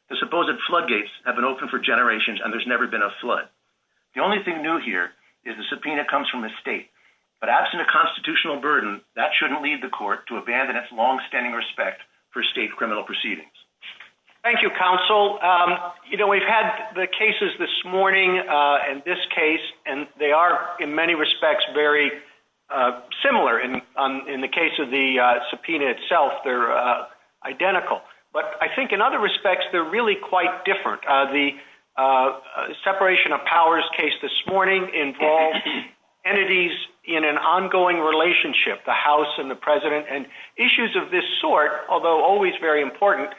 The supposed floodgates have been open for generations, and there's never been a flood. The only thing new here is the subpoena comes from the State, but absent a constitutional burden, that shouldn't lead the Court to abandon its longstanding respect for state criminal proceedings. Thank you, Counsel. You know, we've had the cases this morning, and this case, and they are, in many respects, very similar. In the case of the subpoena itself, they're identical, but I think in other respects, they're really quite different. The separation of powers case this morning involves entities in an ongoing relationship, the House and the President, and issues of this sort, although always very important,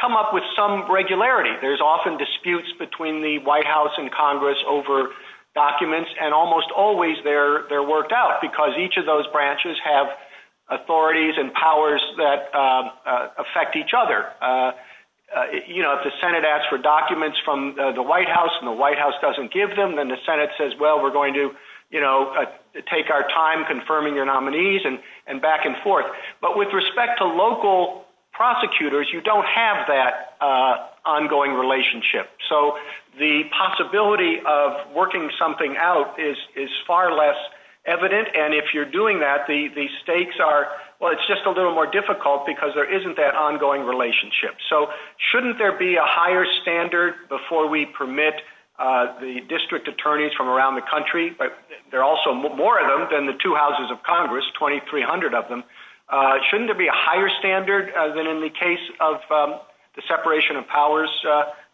come up with some regularity. There's often disputes between the White House and Congress over documents, and almost always they're worked out, because each of those branches have authorities and powers that affect each other. You know, if the Senate asks for documents from the White House, and the White House doesn't give them, then the Senate says, well, we're going to, you know, take our time confirming your nominees, and back and forth. But with respect to local prosecutors, you don't have that ongoing relationship. So the possibility of working something out is far less evident, and if you're doing that, the stakes are, well, it's just a little more difficult because there isn't that ongoing relationship. So shouldn't there be a higher standard before we permit the district attorneys from around the country, but there are also more of them than the two houses of Congress, 2,300 of them, shouldn't there be a higher standard than in the case of the separation of powers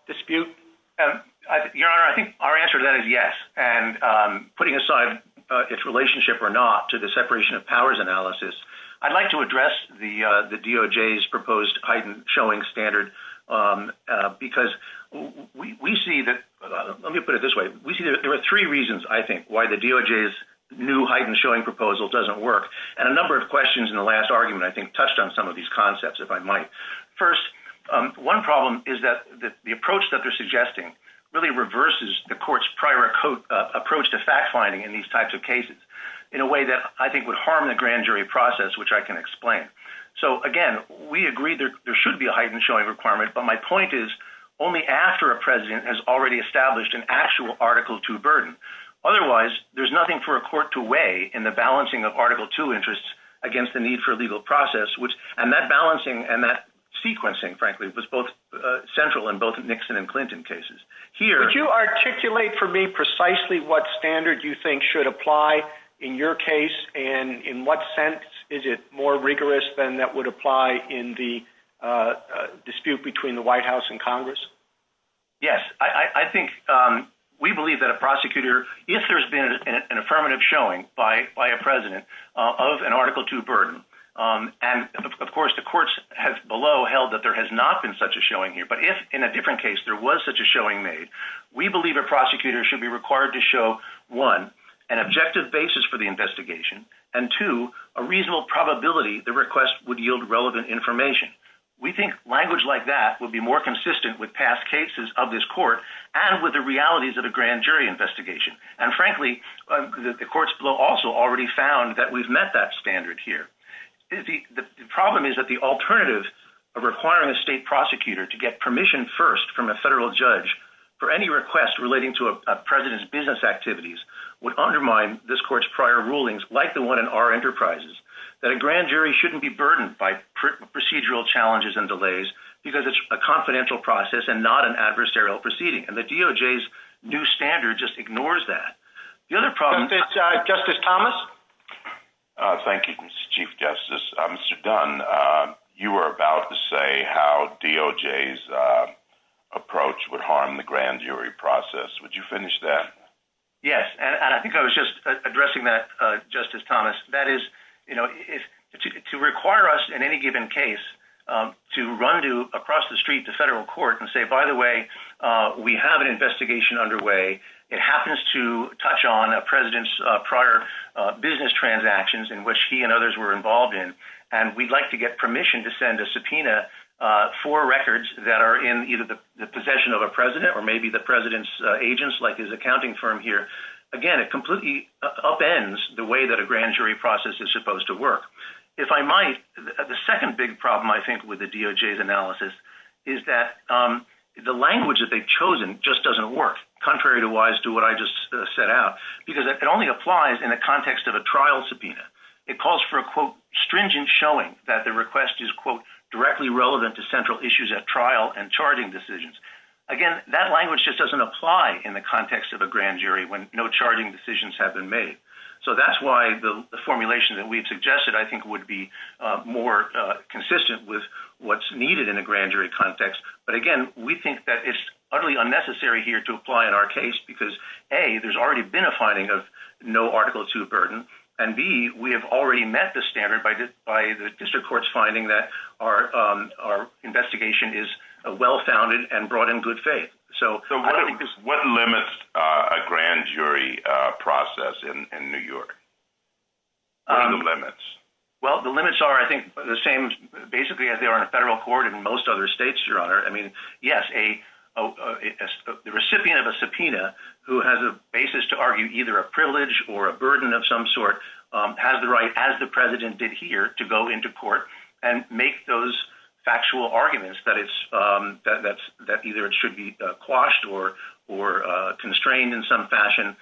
dispute? I think our answer to that is yes, and putting aside its relationship or not to the separation of powers analysis, I'd like to address the DOJ's proposed heightened showing standard because we see that, let me put it this way, we see there are three reasons, I think, why the DOJ's new heightened showing proposal doesn't work, and a number of questions in the last argument I think touched on some of these concepts, if I might. First, one problem is that the approach that they're suggesting really reverses the court's prior approach to fact-finding in these types of cases in a way that I think would harm the grand jury process, which I can explain. So again, we agree there should be a heightened showing requirement, but my point is only after a president has already established an actual Article II burden. Otherwise, there's nothing for a court to weigh in the balancing of Article II interests against the need for a legal process, and that balancing and that sequencing, frankly, was both central in both Nixon and Clinton cases. Here... Would you articulate for me precisely what standard you think should apply in your case, and in what sense is it more rigorous than that would apply in the dispute between the White House and Congress? Yes. I think we believe that a prosecutor, if there's been an affirmative showing by a president of an Article II burden, and of course the courts below held that there has not been such a showing here, but if in a different case there was such a showing made, we believe a prosecutor should be required to show, one, an objective basis for the investigation, and two, a reasonable probability the request would yield relevant information. We think language like that would be more consistent with past cases of this court, and with the realities of a grand jury investigation. And frankly, the courts below also already found that we've met that standard here. The problem is that the alternative of requiring a state prosecutor to get permission first from a federal judge for any request relating to a president's business activities would imply, like the one in our enterprises, that a grand jury shouldn't be burdened by procedural challenges and delays because it's a confidential process and not an adversarial proceeding. And the DOJ's new standard just ignores that. Justice Thomas? Thank you, Mr. Chief Justice. Mr. Dunn, you were about to say how DOJ's approach would harm the grand jury process. Would you finish that? Yes, and I think I was just addressing that, Justice Thomas. That is, you know, to require us in any given case to run across the street to federal court and say, by the way, we have an investigation underway. It happens to touch on a president's prior business transactions in which he and others were involved in, and we'd like to get permission to send a subpoena for records that are in either the possession of a president or maybe the president's agents, like his accounting firm here. Again, it completely upends the way that a grand jury process is supposed to work. The second big problem, I think, with the DOJ's analysis is that the language that they've chosen just doesn't work, contrary to what I just said out, because it only applies in the context of a trial subpoena. It calls for a, quote, stringent showing that the request is, quote, directly relevant to central issues at trial and charging decisions. Again, that language just doesn't apply in the context of a grand jury when no charging decisions have been made. So that's why the formulation that we had suggested, I think, would be more consistent with what's needed in a grand jury context. But again, we think that it's utterly unnecessary here to apply in our case because, A, there's already been a finding of no Article 2 burden, and B, we have already met the standard by the district court's finding that our district court has already voted and brought in good faith. What limits a grand jury process in New York? What are the limits? Well, the limits are, I think, the same, basically, as they are in a federal court in most other states, Your Honor. I mean, yes, the recipient of a subpoena who has a basis to argue either a privilege or a burden of some sort has the right, as the president did here, to go into court and make those factual arguments that either it should be quashed or constrained in some fashion.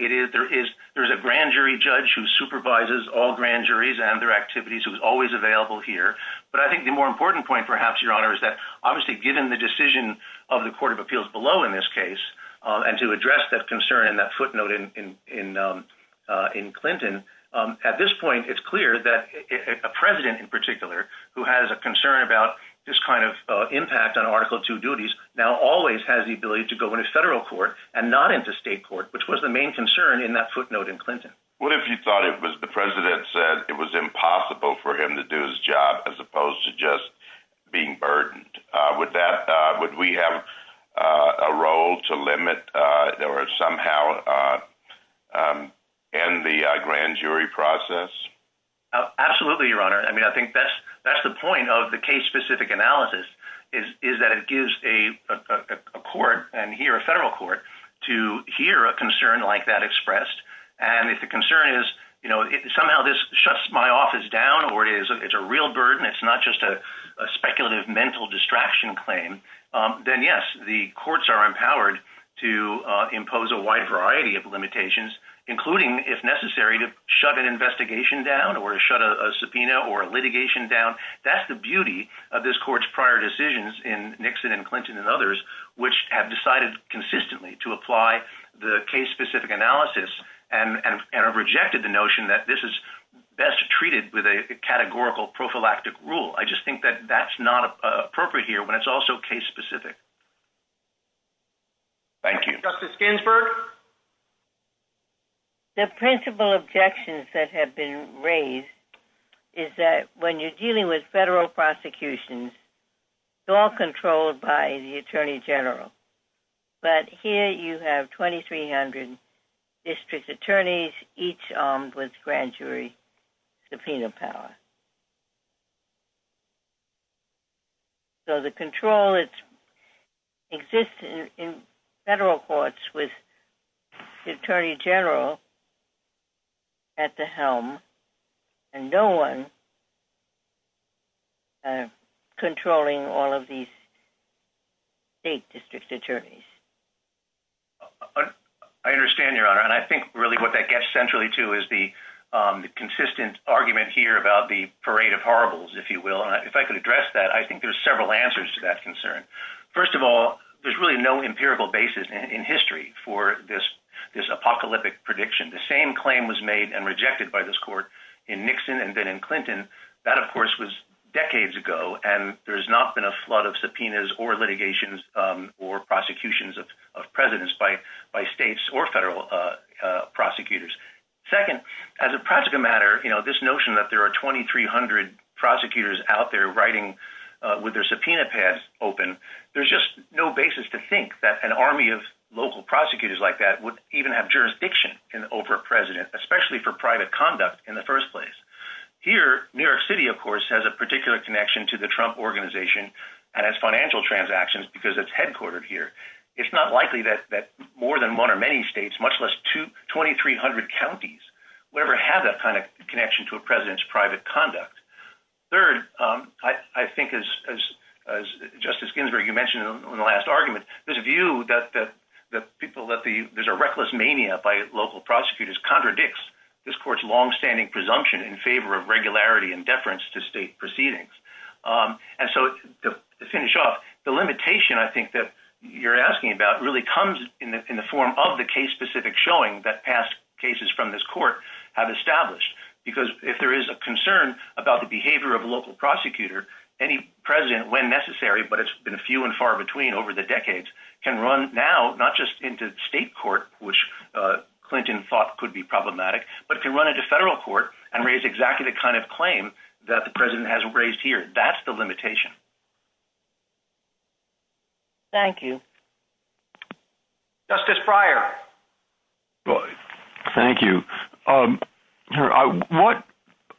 There's a grand jury judge who supervises all grand juries and their activities, who's always available here. But I think the more important point, perhaps, Your Honor, is that, obviously, given the decision of the Court of Appeals below in this case and to address that concern and that footnote in Clinton, at this particular, who has a concern about this kind of impact on Article II duties, now always has the ability to go into federal court and not into state court, which was the main concern in that footnote in Clinton. What if you thought it was the president said it was impossible for him to do his job as opposed to just being burdened with that? Would we have a role to limit or somehow end the grand jury process? Absolutely, Your Honor. I think that's the point of the case specific analysis, is that it gives a court and here, a federal court, to hear a concern like that expressed and if the concern is somehow this shuts my office down or it's a real burden, it's not just a speculative mental yes, the courts are empowered to impose a wide variety of limitations, including, if you will, to shut a litigation down or shut a subpoena or litigation down. That's the beauty of this court's prior decisions in Nixon and Clinton and others, which have decided consistently to apply the case specific analysis and have rejected the notion that this is best treated with a categorical prophylactic rule. I just think that that's not appropriate here when it's also case specific. Thank you. Justice Ginsburg? The principal objections that have been raised is that when you're dealing with federal prosecutions, it's all controlled by the Attorney General, but here you have 2,300 district attorneys, each armed with grand jury subpoena power. So the control exists in federal courts with the Attorney General at the helm and no one controlling all of these state district attorneys. I understand, Your Honor, and I think really what that gets centrally to is the consistent argument here about the parade of horribles, if you will. If I could address that, I think there's several answers to that concern. First of all, there's really no empirical basis in history for this apocalyptic prediction. The same claim was made and rejected by this court in Nixon and then in Clinton. That, of course, was decades ago and there's not been a flood of subpoenas or litigations or prosecutions of presidents by states or federal prosecutors. Second, as a practical matter, this notion that there are 2,300 prosecutors out there writing with their subpoena pass open, there's just no basis to think that an army of local prosecutors like that would even have jurisdiction over a president, especially for private conduct in the first place. Here, New York City, of course, has a particular connection to the Trump Organization and its financial transactions because it's headquartered here. It's not likely that more than one or many states, much less 2,300 counties, will ever have that kind of connection to a president's private conduct. Third, I think, as Justice Ginsburg, you mentioned in the last argument, this view that there's a reckless mania by local prosecutors contradicts this court's longstanding presumption in favor of regularity and deference to state proceedings. To finish off, the limitation, I think, that you're asking about really comes in the form of the case-specific showing that past cases from this court have established because if there is a concern about the behavior of a local prosecutor, any president, when necessary, but it's been few and far between over the decades, can run now, not just into state court, which Clinton thought could be problematic, but can run into federal court and raise exactly the kind of claim that the president has raised here. That's the limitation. Thank you. Justice Breyer. Thank you.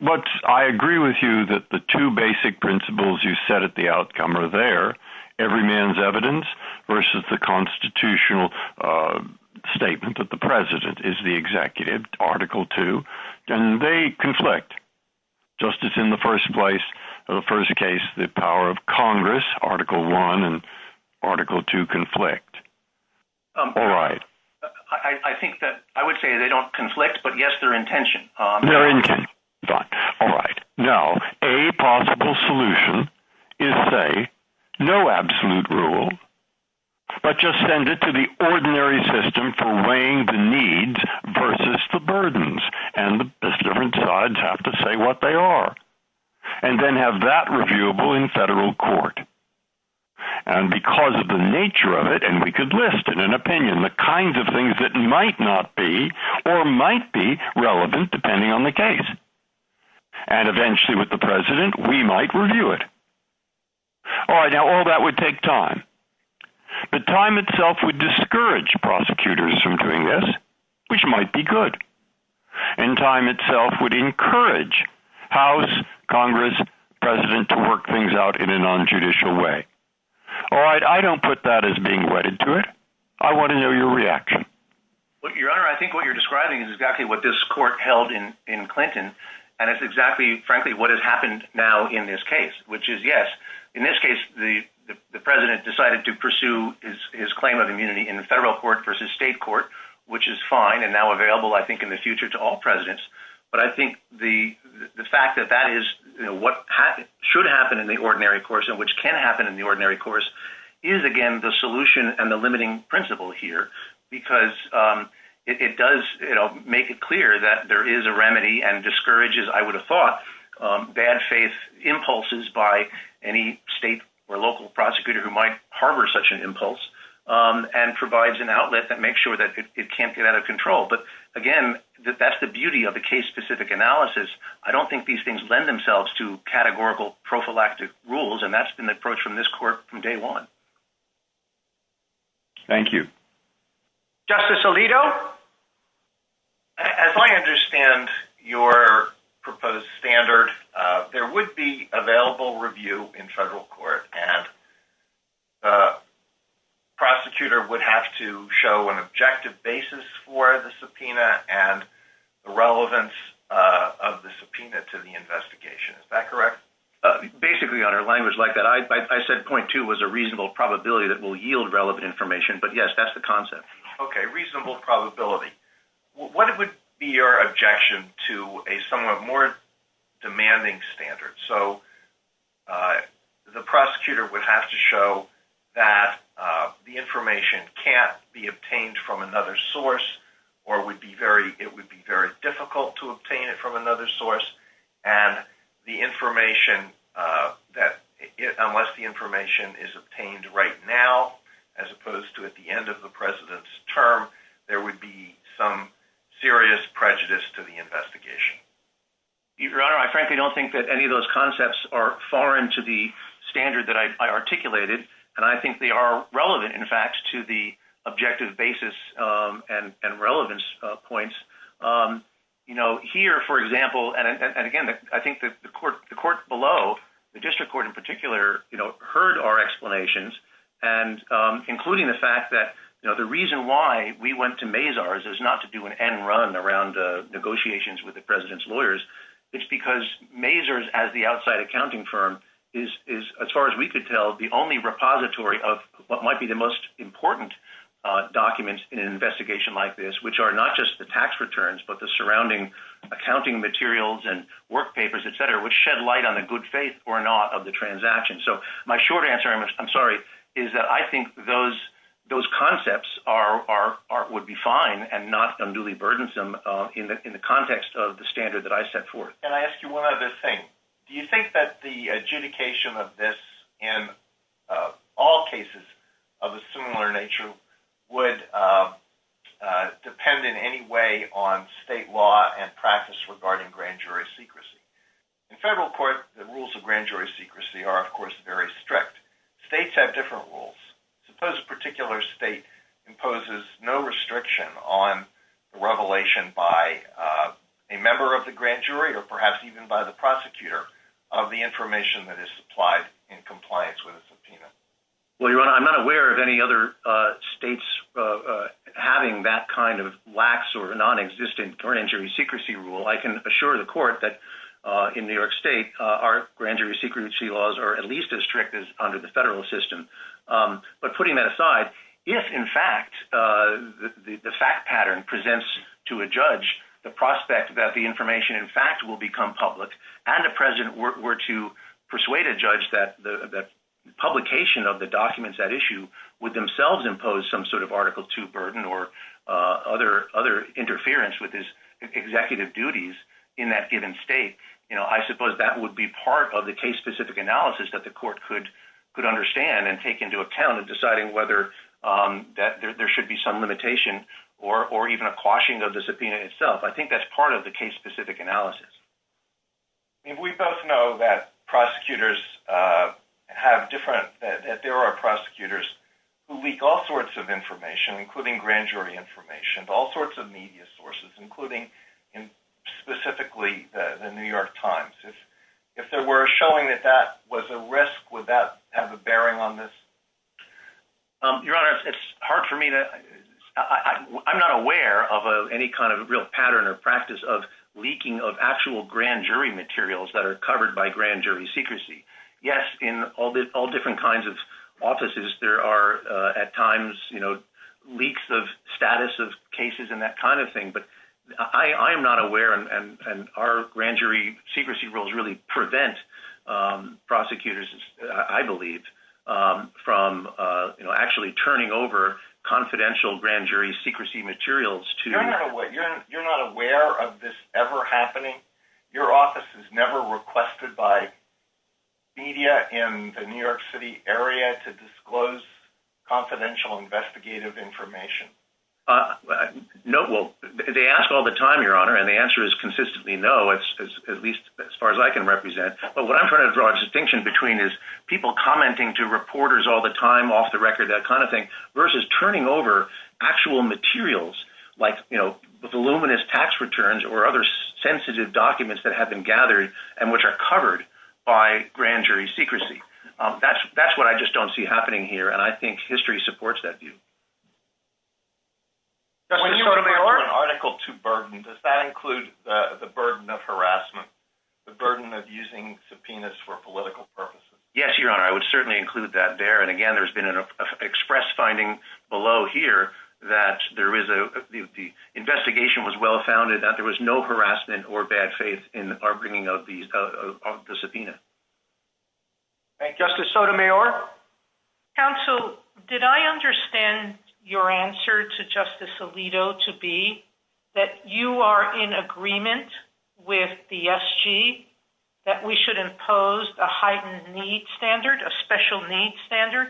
What I agree with you that the two basic principles you said at the outcome are there, every man's evidence versus the constitutional statement that the president is the executive, Article 2, and they conflict. Justice, in the first place, the power of Congress, Article 1 and Article 2 conflict. All right. I would say they don't conflict, but yes, they're in tension. All right. Now, a possible solution is, say, no absolute rule, but just send it to the ordinary system for weighing the needs versus the burdens, and the different sides have to say what they are, and then have that reviewable in federal court. And because of the nature of it, and we could list in an opinion the kinds of things that might not be, or might be relevant, depending on the case. And eventually, with the president, we might review it. All right. Now, all that would take time. But time itself would discourage prosecutors from doing this, which might be good. And time itself would encourage House, Congress, president to work things out in a non-judicial way. All right. I don't put that as being wedded to it. I want to know your reaction. Your Honor, I think what you're describing is exactly what this court held in Clinton, and it's exactly, frankly, what has happened now in this case, which is, yes, in this case, the president decided to pursue his claim of immunity in the federal court versus state court, which is fine and now available, I think, in the future to all presidents. But I think the fact that that is what should happen in the ordinary course and which can happen in the ordinary course is, again, the solution and the limiting principle here, because it does make it clear that there is a remedy and discourages, I would have thought, bad faith impulses by any state or local prosecutor who might harbor such an impulse and provides an outlet that makes sure that it can't get out of control. But, again, that's the beauty of the case-specific analysis. I don't think these things lend themselves to categorical prophylactic rules, and that's an approach from this court from day one. Thank you. Justice Alito? As I understand your proposed standard, there would be available review in federal court, and the prosecutor would have to show an objective basis for the subpoena and the relevance of the subpoena to the investigation. Is that correct? Basically, Your Honor, language like that. I said point two was a reasonable probability that will yield relevant information, but, yes, that's the concept. Okay, reasonable probability. What would be your objection to a somewhat more demanding standard? So, the prosecutor would have to show that the information can't be obtained from another source, or it would be very difficult to obtain it from another source, and the information that, unless the information is obtained right now, as opposed to at the end of the president's term, there would be some serious prejudice to the investigation. Your Honor, I frankly don't think that any of those concepts are foreign to the standard that I articulated, and I think they are relevant, in fact, to the objective basis and relevance points. You know, here, for example, and, again, I think the court below, the district court in particular, heard our explanations, including the fact that the reason why we went to Mazars is not to do an end run around negotiations with the president's lawyers. It's because Mazars, as the outside accounting firm, is, as far as we could tell, the only repository of what might be the most important documents in an investigation like this, which are not just the tax returns, but the surrounding accounting materials and work papers, etc., which shed light on the good faith or not of the transaction. So, my short answer, I'm sorry, is that I think those concepts would be fine and not unduly burdensome in the context of the standard that I set forth. Can I ask you one other thing? Do you think that the adjudication of this in all cases of a similar nature would depend in any way on state law and practice regarding grand jury secrecy? In federal court, the rules of grand jury secrecy are, of course, very strict. States have different rules. Suppose a particular state imposes no restriction on the revelation by a member of the grand jury, or perhaps even by the prosecutor, of the information that is supplied in compliance with a subpoena. Well, Your Honor, I'm not aware of any other states having that kind of lax or non-existent grand jury secrecy rule. I can assure the court that in New York State, our grand jury secrecy laws are at least as strict as under the federal system. But putting that aside, if, in fact, the fact pattern presents to a judge the prospect that the information, in fact, will become public, and the president were to persuade a judge that the publication of the documents that issue would themselves impose some sort of Article II burden or other interference with his executive duties in that given state, I suppose that would be part of the case-specific analysis that the court could understand and take into account in deciding whether there should be some limitation or even a quashing of the subpoena itself. I think that's part of the case-specific analysis. We both know that prosecutors have different... that there are prosecutors who leak all sorts of information, including grand jury information, all sorts of media sources, including specifically the New York Times. If there were a showing that that was a risk, would that have a bearing on this? Your Honor, it's hard for me to... I'm not aware of any kind of real pattern or practice of leaking of actual grand jury materials that are covered by grand jury secrecy. Yes, in all different kinds of offices, there are at times leaks of status of cases and that kind of thing, but I am not aware and our grand jury secrecy rules really prevent prosecutors, I believe, from actually turning over confidential grand jury secrecy materials to... You're not aware of this ever happening? Your office is never requested by media in the New York City area to disclose confidential investigative information? No, well, they ask all the time, Your Honor, and the answer is consistently no, at least as far as I can represent. But what I'm trying to draw a distinction between is people commenting to reporters all the time off the record that kind of thing versus turning over actual materials like voluminous tax returns or other sensitive documents that have been gathered and which are covered by grand jury secrecy. That's what I just don't see happening here, and I think history supports that view. When you refer an article to burden, does that include the burden of harassment, the burden of using subpoenas for political purposes? Yes, Your Honor, I would certainly include that there, and again, there's been an express finding below here that there is a... that there was no harassment or bad faith in our bringing of the subpoena. And Justice Sotomayor? Counsel, did I understand your answer to Justice Alito to be that you are in agreement with the SG that we should impose a heightened need standard, a special need standard?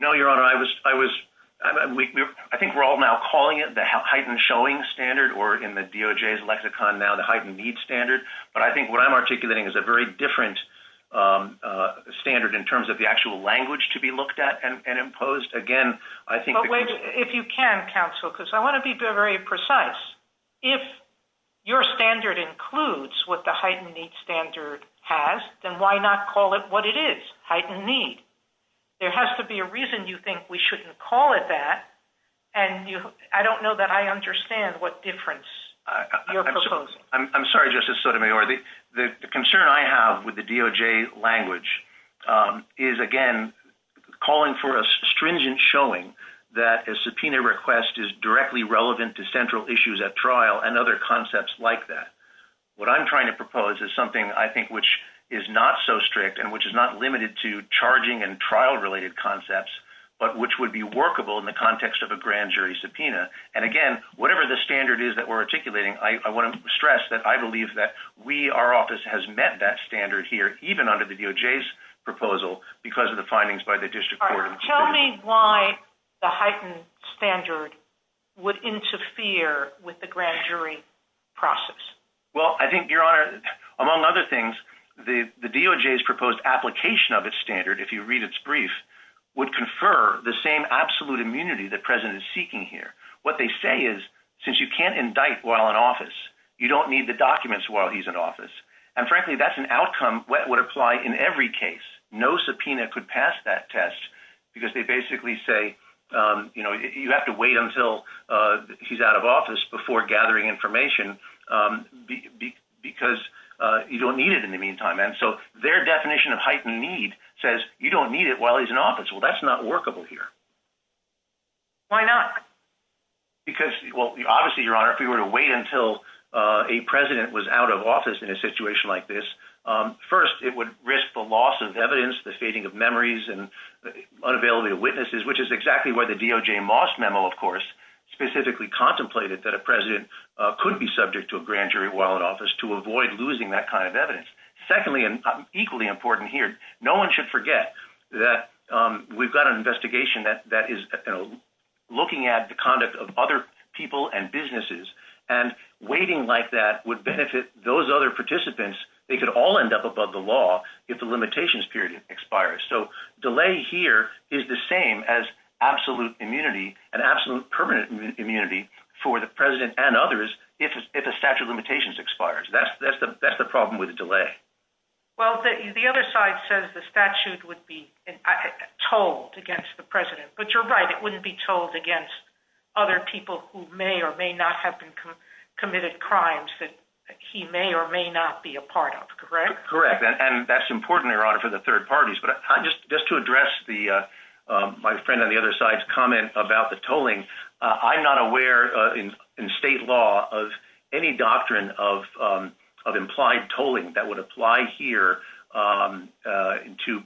No, Your Honor, I was... I think we're all now calling it the DOJ's lexicon now, the heightened need standard, but I think what I'm articulating is a very different standard in terms of the actual language to be looked at and imposed. Again, I think... If you can, Counsel, because I want to be very precise. If your standard includes what the heightened need standard has, then why not call it what it is, heightened need? There has to be a reason you think we shouldn't call it that, and I don't know that I understand what difference your proposal... I'm sorry, Justice Sotomayor. The concern I have with the DOJ language is, again, calling for a stringent showing that a subpoena request is directly relevant to central issues at trial and other concepts like that. What I'm trying to propose is something I think which is not so strict and which is not limited to charging and trial-related concepts, but which would be workable in the DOJ. And again, whatever the standard is that we're articulating, I want to stress that I believe that we, our office, has met that standard here, even under the DOJ's proposal, because of the findings by the district court. Tell me why the heightened standard would interfere with the grand jury process. Well, I think, Your Honor, among other things, the DOJ's proposed application of its standard, if you read its brief, would confer the same absolute immunity that the President is seeking here. What they say is, since you can't indict while in office, you don't need the documents while he's in office. And frankly, that's an outcome that would apply in every case. No subpoena could pass that test, because they basically say, you know, you have to wait until he's out of office before gathering information because you don't need it in the meantime. So their definition of heightened need says you don't need it while he's in office. Well, that's not workable here. Why not? Because, well, obviously, Your Honor, if we were to wait until a President was out of office in a situation like this, first, it would risk the loss of evidence, the fading of memories, and unavailability of witnesses, which is exactly where the DOJ Moss Memo, of course, specifically contemplated that a President could be subject to a grand jury while in office to avoid losing that kind of evidence. Secondly, and equally important here, no one should forget that we've got an investigation that is looking at the conduct of other people and businesses, and waiting like that would benefit those other participants. They could all end up above the law if the limitations period expires. So delay here is the same as absolute immunity and absolute permanent immunity for the President and others if the statute of limitations expires. That's the problem with the delay. Well, the other side says the statute would be tolled against the President, but you're right, it wouldn't be tolled against other people who may or may not have committed crimes that he may or may not be a part of, correct? Correct. And that's important, Your Honor, for the third parties, but just to address my friend on the other side's comment about the tolling, I'm not aware in state law of any doctrine of tolling that would apply here to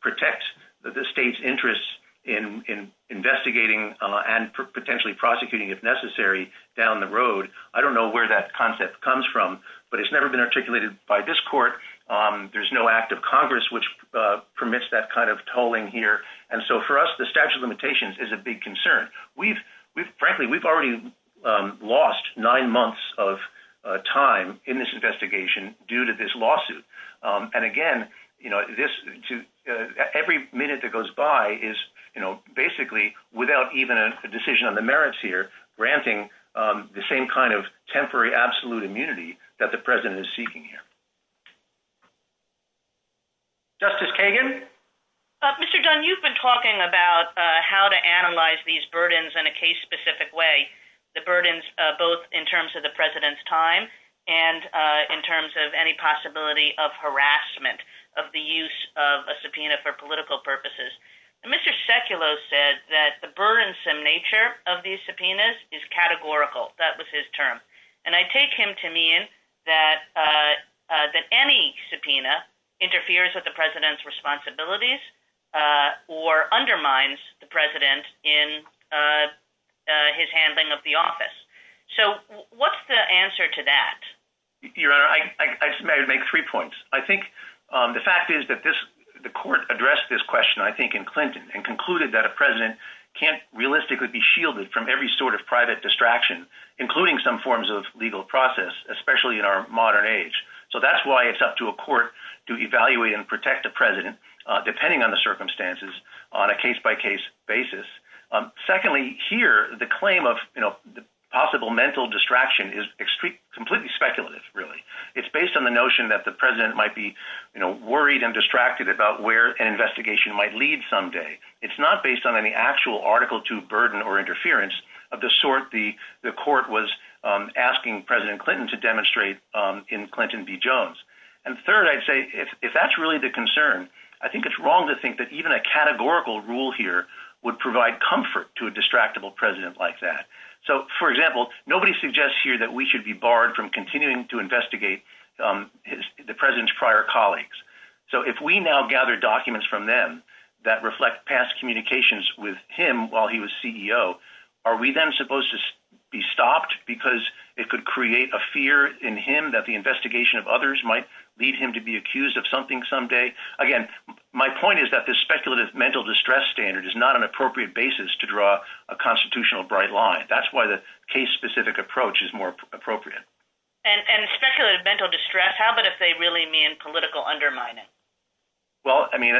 protect the state's interests in investigating and potentially prosecuting if necessary down the road. I don't know where that concept comes from, but it's never been articulated by this court. There's no act of Congress which permits that kind of tolling here, and so for us, the statute of limitations is a big concern. Frankly, we've already lost nine months of time in this investigation due to this lawsuit, and again, every minute that goes by is basically without even a decision on the merits here, granting the same kind of temporary absolute immunity that the President is seeking here. Justice Kagan? Mr. Dunn, you've been talking about how to analyze these burdens in a case-specific way, the burdens both in terms of the President's time and in terms of any possibility of harassment of the use of a subpoena for political purposes. Mr. Sekulow said that the burdensome nature of these subpoenas is categorical. That was his term, and I take him to mean that any subpoena interferes with the President's responsibilities or undermines the President in his handling of the office. So what's the answer to that? Your Honor, I'd make three points. I think the fact is that the Court addressed this question, I think, in Clinton and concluded that a President can't realistically be shielded from every sort of private distraction, including some forms of legal process, especially in our modern age. So that's why it's up to a Court to evaluate and protect the President, depending on the circumstances, on a case-by-case basis. Secondly, here, the claim of possible mental distraction is completely speculative, really. It's based on the notion that the President might be worried and distracted about where an investigation might lead someday. It's not based on any actual Article II burden or interference of the sort the Court was asking President Clinton to demonstrate in Clinton v. Jones. And third, I'd say, if that's really the concern, I think it's wrong to think that even a categorical rule here would provide comfort to a distractible President like that. So, for example, nobody suggests here that we should be barred from continuing to investigate the President's prior colleagues. So if we now gather documents from them that reflect past communications with him while he was CEO, are we then supposed to be stopped because it could create a fear in him that the investigation of others might lead him to be accused of something someday? Again, my point is that this speculative mental distress standard is not an appropriate basis to draw a constitutional bright line. That's why the case-specific approach is more appropriate. And speculative mental distress, how about if they really mean political undermining? Well, I mean,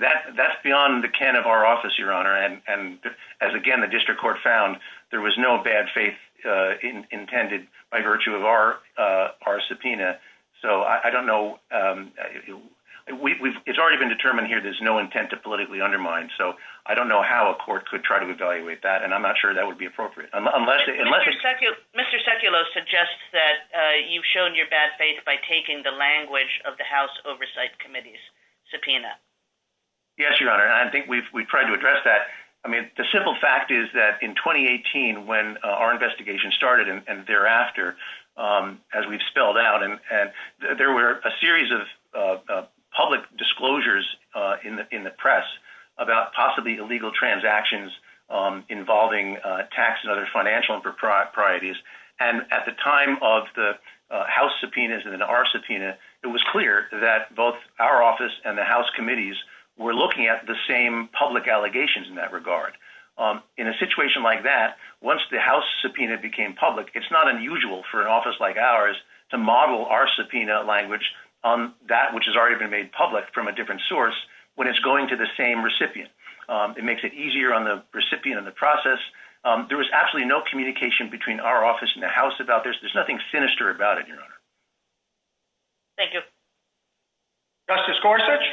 that's beyond the can of our office, Your Honor, and as, again, the District Court found, there was no bad faith intended by virtue of our subpoena. So I don't know. It's already been determined here there's no intent to politically undermine, so I don't know how a court could try to evaluate that, and I'm not sure that would be appropriate. Mr. Sekulow suggests that you showed your bad faith by taking the language of the House Oversight Committee's subpoena. Yes, Your Honor, and I think we've tried to address that. I mean, the simple fact is that in 2018, when our investigation started and thereafter, as we've spelled out, there were a series of public disclosures in the press about possibly illegal transactions involving taxes, other financial proprieties, and at the time of the House subpoenas and our subpoena, it was clear that both our office and the House committees were looking at the same public allegations in that regard. In a situation like that, once the House subpoena became public, it's not unusual for an office like ours to model our subpoena language on that which has already been made public from a different source when it's going to the same recipient. It makes it easier on the recipient and the process. There was absolutely no communication between our office and the House about this. There's nothing sinister about it, Your Honor. Thank you. Justice Gorsuch?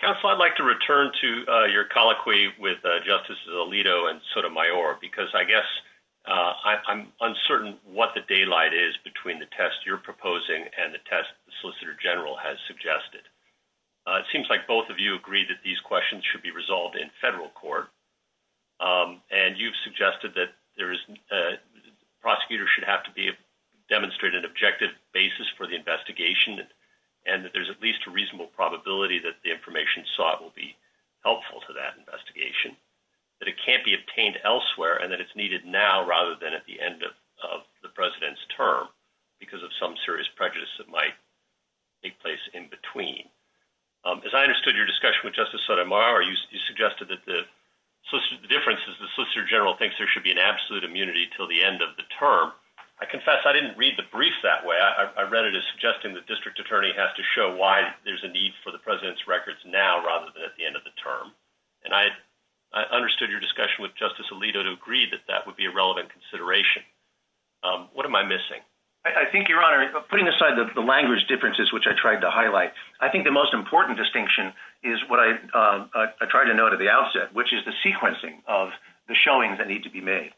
Counsel, I'd like to return to your colloquy with Justices Alito and Sotomayor because I guess I'm uncertain what the daylight is between the test you're proposing and the test the Solicitor General has suggested. It seems like both of you agree that these questions should be resolved in federal court, and you've suggested that prosecutors should have to demonstrate an objective basis for the investigation and that there's at least a reasonable probability that the information sought will be helpful to that investigation, that it can't be obtained elsewhere, and that it's needed now rather than at the end of the President's term because of some serious prejudice that might take place in between. As I understood your discussion with Justice Sotomayor, you suggested that the difference is the Solicitor General thinks there should be an absolute immunity until the end of the term. I confess I didn't read the brief that way. I read it as suggesting the District Attorney has to show why there's a need for the President's records now rather than at the end of the term, and I understood your discussion with Justice Alito to agree that that would be a relevant consideration. What am I missing? I think, Your Honor, putting aside the language differences which I tried to highlight, I think the most important distinction is what I tried to note at the outset, which is the sequencing of the showings that need to be made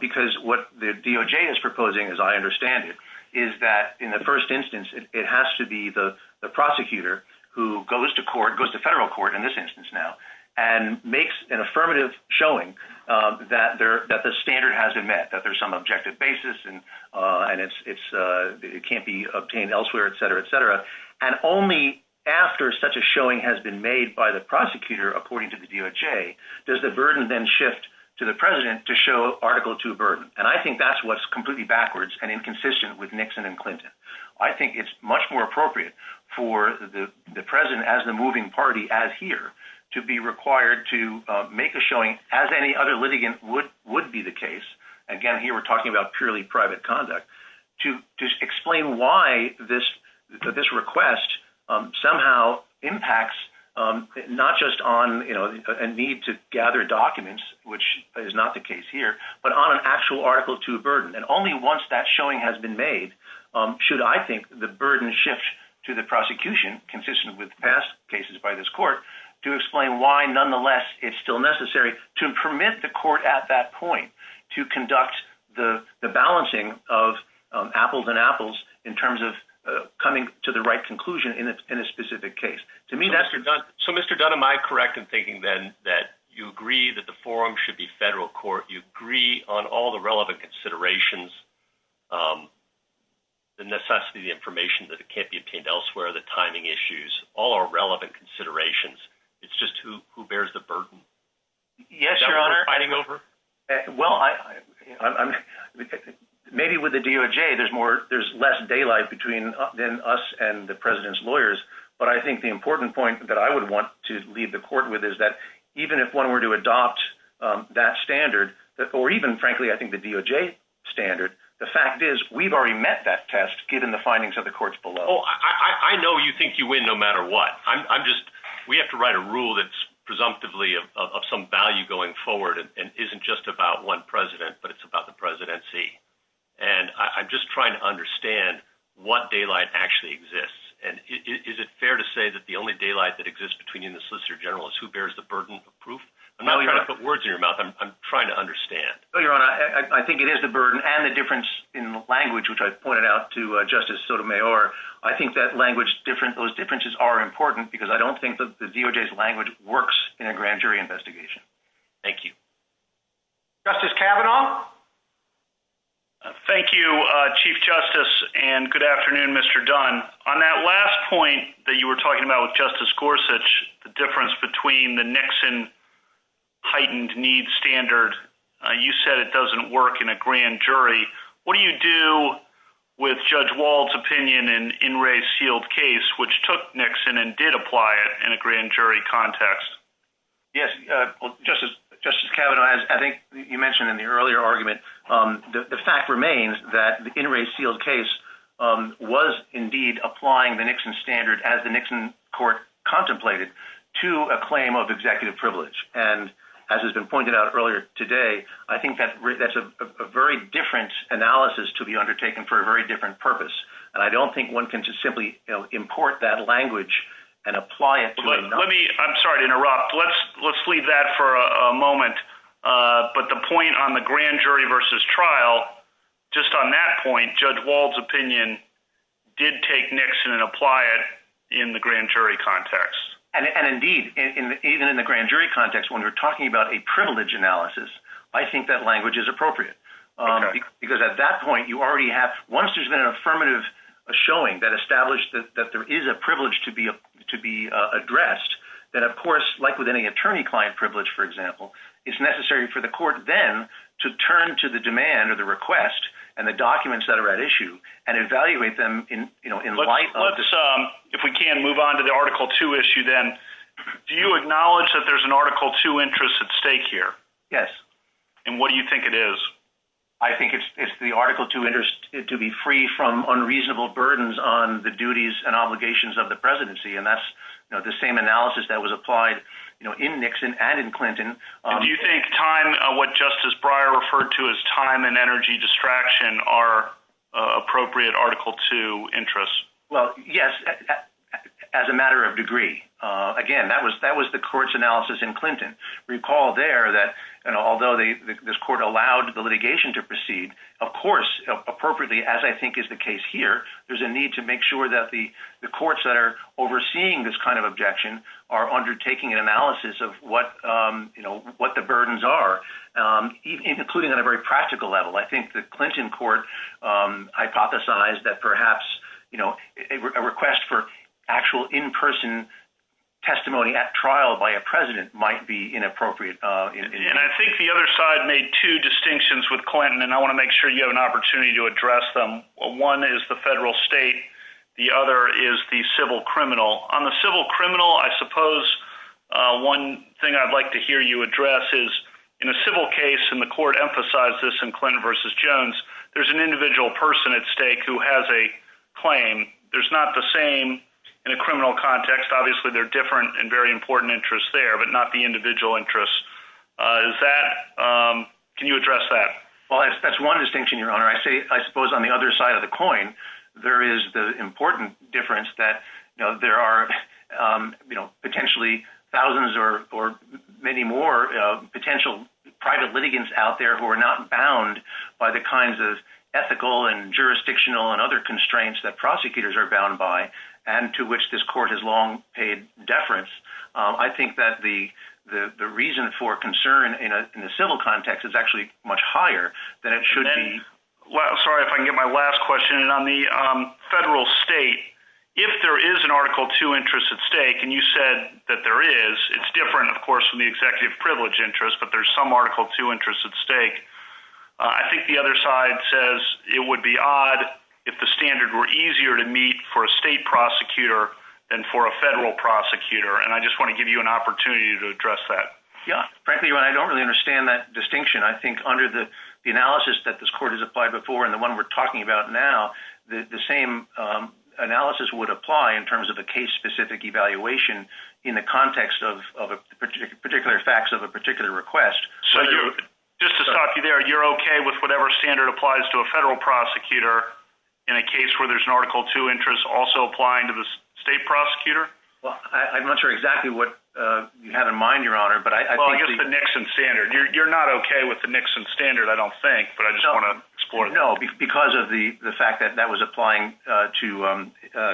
because what the DOJ is proposing, as I understand it, is that in the first instance, it has to be the prosecutor who goes to federal court in this instance now and makes an affirmative showing that the standard hasn't met, that there's some objective basis and it can't be obtained elsewhere, etc., etc., and only after such a showing has been made by the prosecutor, according to the DOJ, does the burden then shift to the President to show Article 2 burden, and I think that's what's completely backwards and inconsistent with Nixon and Clinton. I think it's much more appropriate for the President as the moving party, as here, to be required to make a showing, as any other litigant would be the case, again, here we're talking about purely private conduct, to explain why this request somehow impacts not just on a need to gather documents, which is not the case here, but on an actual Article 2 burden, and only once that showing has been made should, I think, the burden shift to the prosecution, consistent with past cases by this court, to explain why, nonetheless, it's still necessary to permit the court at that point to conduct the balancing of apples and apples in terms of coming to the right conclusion in a specific case. So, Mr. Dunn, am I correct in thinking then that you agree that the forum should be federal court, you agree on all the relevant considerations the necessity information that can't be obtained elsewhere, the timing issues, all are relevant considerations, it's just who bears the burden? Yes, Your Honor. Maybe with the DOJ, there's less daylight between us and the President's lawyers, but I think the important point that I would even if one were to adopt that standard, or even, frankly, I think the DOJ standard, the fact is, we've already met that test given the findings of the courts below. I know you think you win no matter what. I'm just, we have to write a rule that's presumptively of some value going forward and isn't just about one President, but it's about the Presidency. And I'm just trying to understand what daylight actually exists, and is it fair to say that the only daylight that exists between you and the Solicitor General is who bears the burden of proof? I'm not trying to put words in your mouth, I'm trying to understand. I think it is the burden, and the difference in language, which I pointed out to Justice Sotomayor, I think that language, those differences are important because I don't think that the DOJ's language works in a grand jury investigation. Thank you. Justice Kavanaugh? Thank you, Chief Justice, and good afternoon, Mr. Dunn. On that last point that you were talking about with Justice Gorsuch, the difference between the Nixon heightened needs standard, you said it doesn't work in a grand jury. What do you do with Judge Wald's opinion in In re Sealed Case, which took Nixon and did apply it in a grand jury context? Yes, Justice Kavanaugh, I think you mentioned in the earlier argument, the fact remains that the In re Sealed Case was indeed applying the Nixon standard, as the Nixon Court contemplated, to a claim of executive privilege. As has been pointed out earlier today, I think that's a very different analysis to be undertaken for a very different purpose. I don't think one can just simply import that language and apply it. I'm sorry to interrupt. Let's leave that for a moment. The point on the grand jury versus trial, just on that point, Judge Wald's opinion did take Nixon and apply it in the grand jury context. Indeed, even in the grand jury context, when we're talking about a privilege analysis, I think that language is appropriate. At that point, you already have once there's been an affirmative showing that established that there is a privilege to be addressed, then of course, like with any attorney-client privilege, for example, it's necessary for the court then to turn to the demand or the request and the documents that are at issue and evaluate them in light of this. Let's, if we can, move on to the Article 2 issue then. Do you acknowledge that there's an Article 2 interest at stake here? Yes. And what do you think it is? I think it's the Article 2 interest to be free from unreasonable burdens on the duties and obligations of the presidency, and that's the same analysis that was applied in Nixon and in Clinton. Do you think time, what Justice Breyer referred to as time and energy distraction, are appropriate for Article 2 interests? Well, yes, as a matter of degree. Again, that was the court's analysis in Clinton. Recall there that although this court allowed the litigation to proceed, of course, appropriately as I think is the case here, there's a need to make sure that the courts that are overseeing this kind of objection of what the burdens are, including on a very practical level. I think the Clinton court hypothesized that perhaps a request for actual in-person testimony at trial by a president might be inappropriate. And I think the other side made two distinctions with Clinton, and I want to make sure you have an opportunity to address them. One is the federal state. The other is the civil criminal. On the civil criminal, I suppose one thing I'd like to hear you address is in a civil case, and the court emphasized this in Clinton v. Jones, there's an individual person at stake who has a claim. There's not the same in a criminal context. Obviously, there are different and very important interests there, but not the individual interests. Can you address that? That's one distinction, Your Honor. I suppose on the other side of the coin, there is the important difference that there are potentially thousands or many more potential private litigants out there who are not bound by the kinds of ethical and jurisdictional and other constraints that prosecutors are bound by and to which this court has long paid deference. I think that the reason for concern in a civil context is actually much higher than it should be. Sorry if I can get my last question. On the federal Article II interest at stake, and you said that there is, it's different, of course, from the executive privilege interest, but there's some Article II interest at stake. I think the other side says it would be odd if the standard were easier to meet for a state prosecutor than for a federal prosecutor. I just want to give you an opportunity to address that. Frankly, Your Honor, I don't really understand that distinction. I think under the analysis that this court has applied before and the one we're talking about now, the same analysis would apply in terms of a case-specific evaluation in the context of particular facts of a particular request. Just to stop you there, you're okay with whatever standard applies to a federal prosecutor in a case where there's an Article II interest also applying to the state prosecutor? I'm not sure exactly what you have in mind, Your Honor. Just the Nixon standard. You're not okay with the Nixon standard, I don't think, but I just want to explore it. No, because of the fact that that was applying to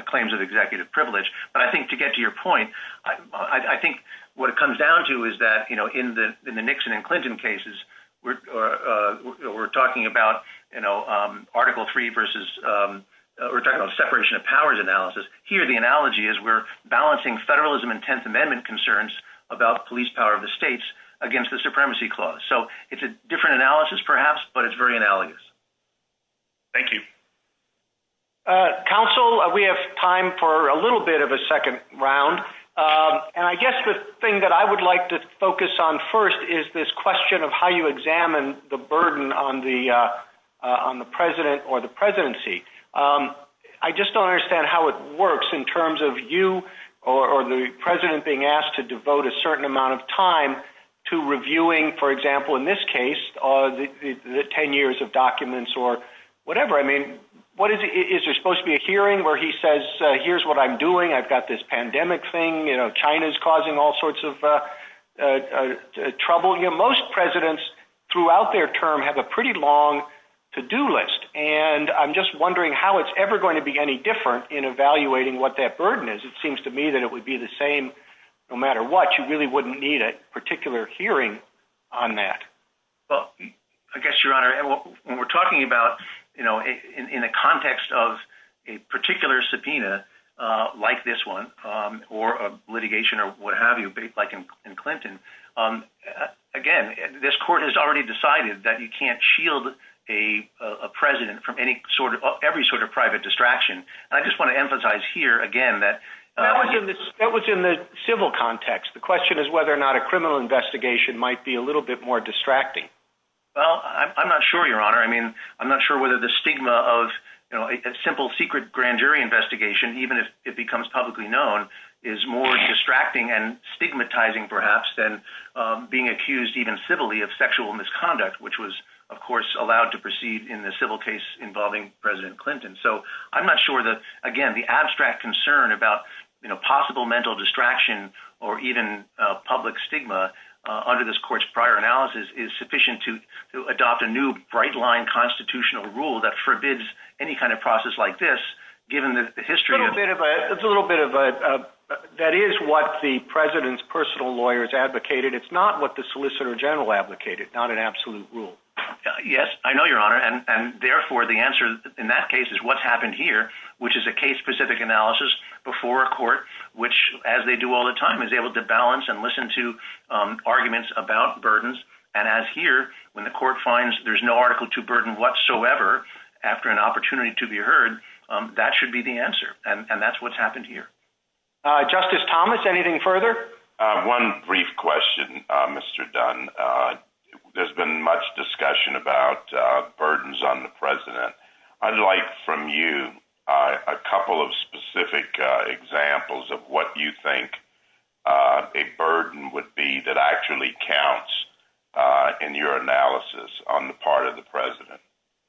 claims of executive privilege, but I think to get to your point, I think what it comes down to is that in the Nixon and Clinton cases, we're talking about Article III versus separation of powers analysis. Here, the analogy is we're balancing federalism and Tenth Amendment concerns about police power of the states against the supremacy clause. It's a different analysis, perhaps, but it's very analogous. Thank you. Counsel, we have time for a little bit of a second round. I guess the thing that I would like to focus on first is this question of how you examine the burden on the president or the presidency. I just don't understand how it works in terms of you or the president being asked to devote a certain amount of time to reviewing, for example, in this case, the 10 years of documents or whatever. Is there supposed to be a hearing where he says, here's what I'm doing. I've got this pandemic thing. China's causing all sorts of trouble. Most presidents throughout their term have a pretty long to-do list. I'm just wondering how it's ever going to be any different in evaluating what that burden is. It seems to me that it would be the same no matter what. You really wouldn't need a particular hearing on that. I guess, Your Honor, when we're talking about in a context of a particular subpoena like this one or litigation or what have you, like in Clinton, again, this court has already decided that you can't shield a president from every sort of private distraction. I just want to emphasize here again that That was in the civil context. The question is whether or not a criminal investigation might be a little bit more distracting. I'm not sure, Your Honor. I'm not sure whether the stigma of a simple secret grand jury investigation, even if it becomes publicly known, is more distracting and stigmatizing perhaps than being accused even civilly of sexual misconduct, which was, of course, allowed to proceed in the civil case involving President Clinton. I'm not sure that, again, the abstract concern about possible mental distraction or even public stigma under this court's prior analysis is sufficient to adopt a new bright-line constitutional rule that forbids any kind of process like this given the history of... It's a little bit of a... That is what the president's personal lawyers advocated. It's not what the Solicitor General advocated, not an absolute rule. Yes, I know, Your Honor, case is what's happened here, which is a case-specific analysis before a court which, as they do all the time, is able to balance and listen to arguments about burdens, and as here, when the court finds there's no article to burden whatsoever after an opportunity to be heard, that should be the answer, and that's what's happened here. Justice Thomas, anything further? One brief question, Mr. Dunn. There's been much discussion about burdens on the president. I'd like from you a couple of specific examples of what you think a burden would be that actually counts in your analysis on the part of the president.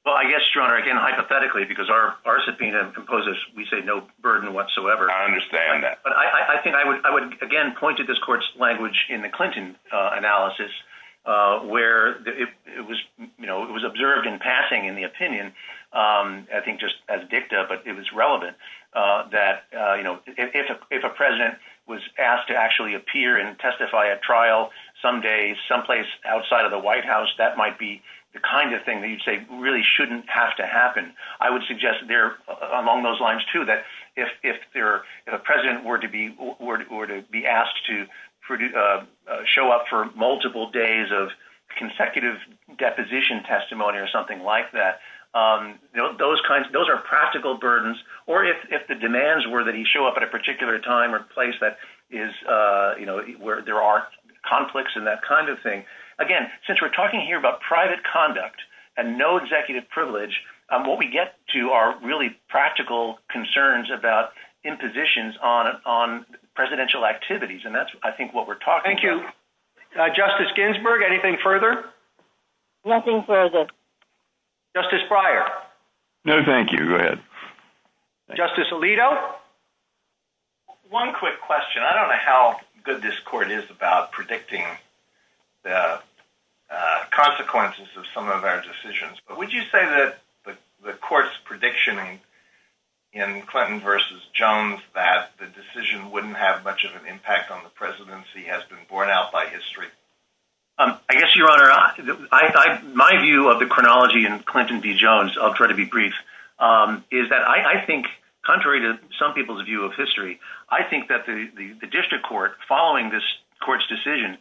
Well, I guess, Your Honor, again, hypothetically, because our subpoena proposes, we say, no burden whatsoever. I understand that. But I think I would, again, point to this court's language in the Clinton analysis where it was observed in passing in the opinion, I think just as dicta, but it was relevant, that if a president was asked to actually appear and testify at trial some day someplace outside of the White House, that might be the kind of thing that you'd say really shouldn't have to happen. I would suggest there among those lines, too, that if a president were to be asked to show up for multiple days of consecutive deposition testimony or something like that, those are practical burdens. Or if the demands were that he show up at a particular time or place that is where there are conflicts and that kind of thing. Again, since we're talking here about private conduct and no executive privilege, what we get to are really practical concerns about impositions on presidential activities. And that's, I think, what we're talking to. Thank you. Justice Ginsburg, anything further? Nothing further. Justice Breyer? No, thank you. Go ahead. Justice Alito? One quick question. I don't know how good this court is about predicting the consequences of some of our decisions, but would you say that the court's prediction in Clinton versus Jones that the decision wouldn't have much of an impact on the presidency has been borne out by history? I guess, Your Honor, my view of the chronology in Clinton v. Jones, I'll try to be brief, is that I think contrary to some people's view of history, I think that the district court, following this court's decision,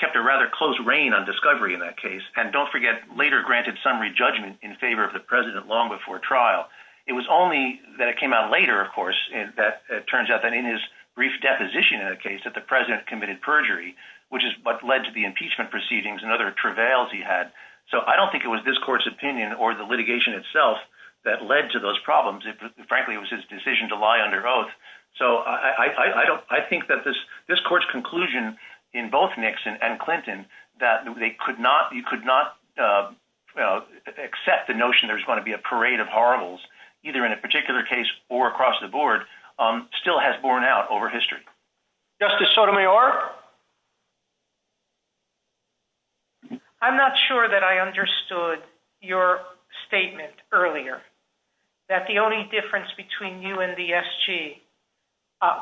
kept a rather close reign on discovery in that case, and don't forget, later granted summary judgment in favor of the president long before trial. It was only that it came out later, of course, that it turns out that in his brief deposition in a case that the president committed perjury, which is what led to the impeachment proceedings and other travails he had. So I don't think it was this court's opinion or the litigation itself that led to those problems. Frankly, it was his decision to lie under oath. So I think that this court's conclusion in both Nixon and Clinton, that you could not accept the notion there's going to be a parade of horribles, either in a particular case or across the board, still has borne out over history. Justice Sotomayor? I'm not sure that I understood your statement earlier that the only difference between you and the SG,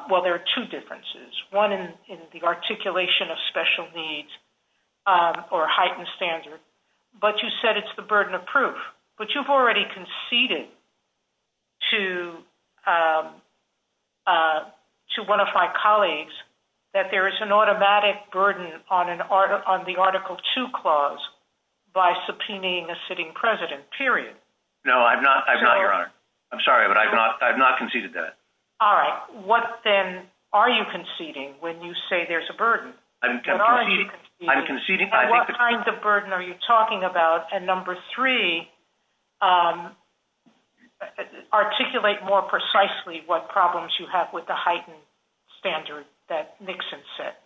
well, there are two differences. One in the articulation of special needs or heightened standards. But you said it's the burden of proof. But you've already conceded to one of my colleagues that there is an automatic burden on the Article 2 clause by subpoenaing a sitting president, period. No, I've not, Your Honor. I'm sorry, but I've not conceded that. All right. What, then, are you conceding when you say there's a burden? I'm conceding. What kind of burden are you talking about? And number three, articulate more precisely what problems you have with the heightened standard that Nixon set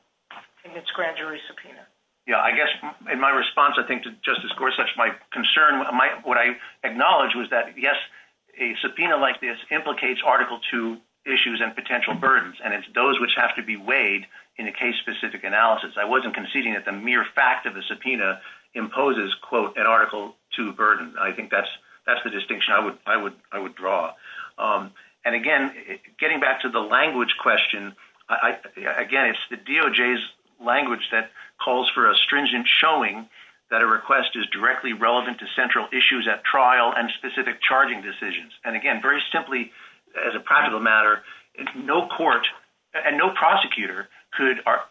in its grand jury subpoena. In my response, I think, to Justice Gorsuch, my concern, what I acknowledged was that, yes, a subpoena like this implicates Article 2 issues and potential burdens, and it's those which have to be weighed in a case-specific analysis. I wasn't conceding that the mere fact of the subpoena imposes, quote, an Article 2 burden. I think that's the question to draw. And, again, getting back to the language question, again, it's the DOJ's language that calls for a stringent showing that a request is directly relevant to central issues at trial and specific charging decisions. And, again, very simply, as a practical matter, no court and no prosecutor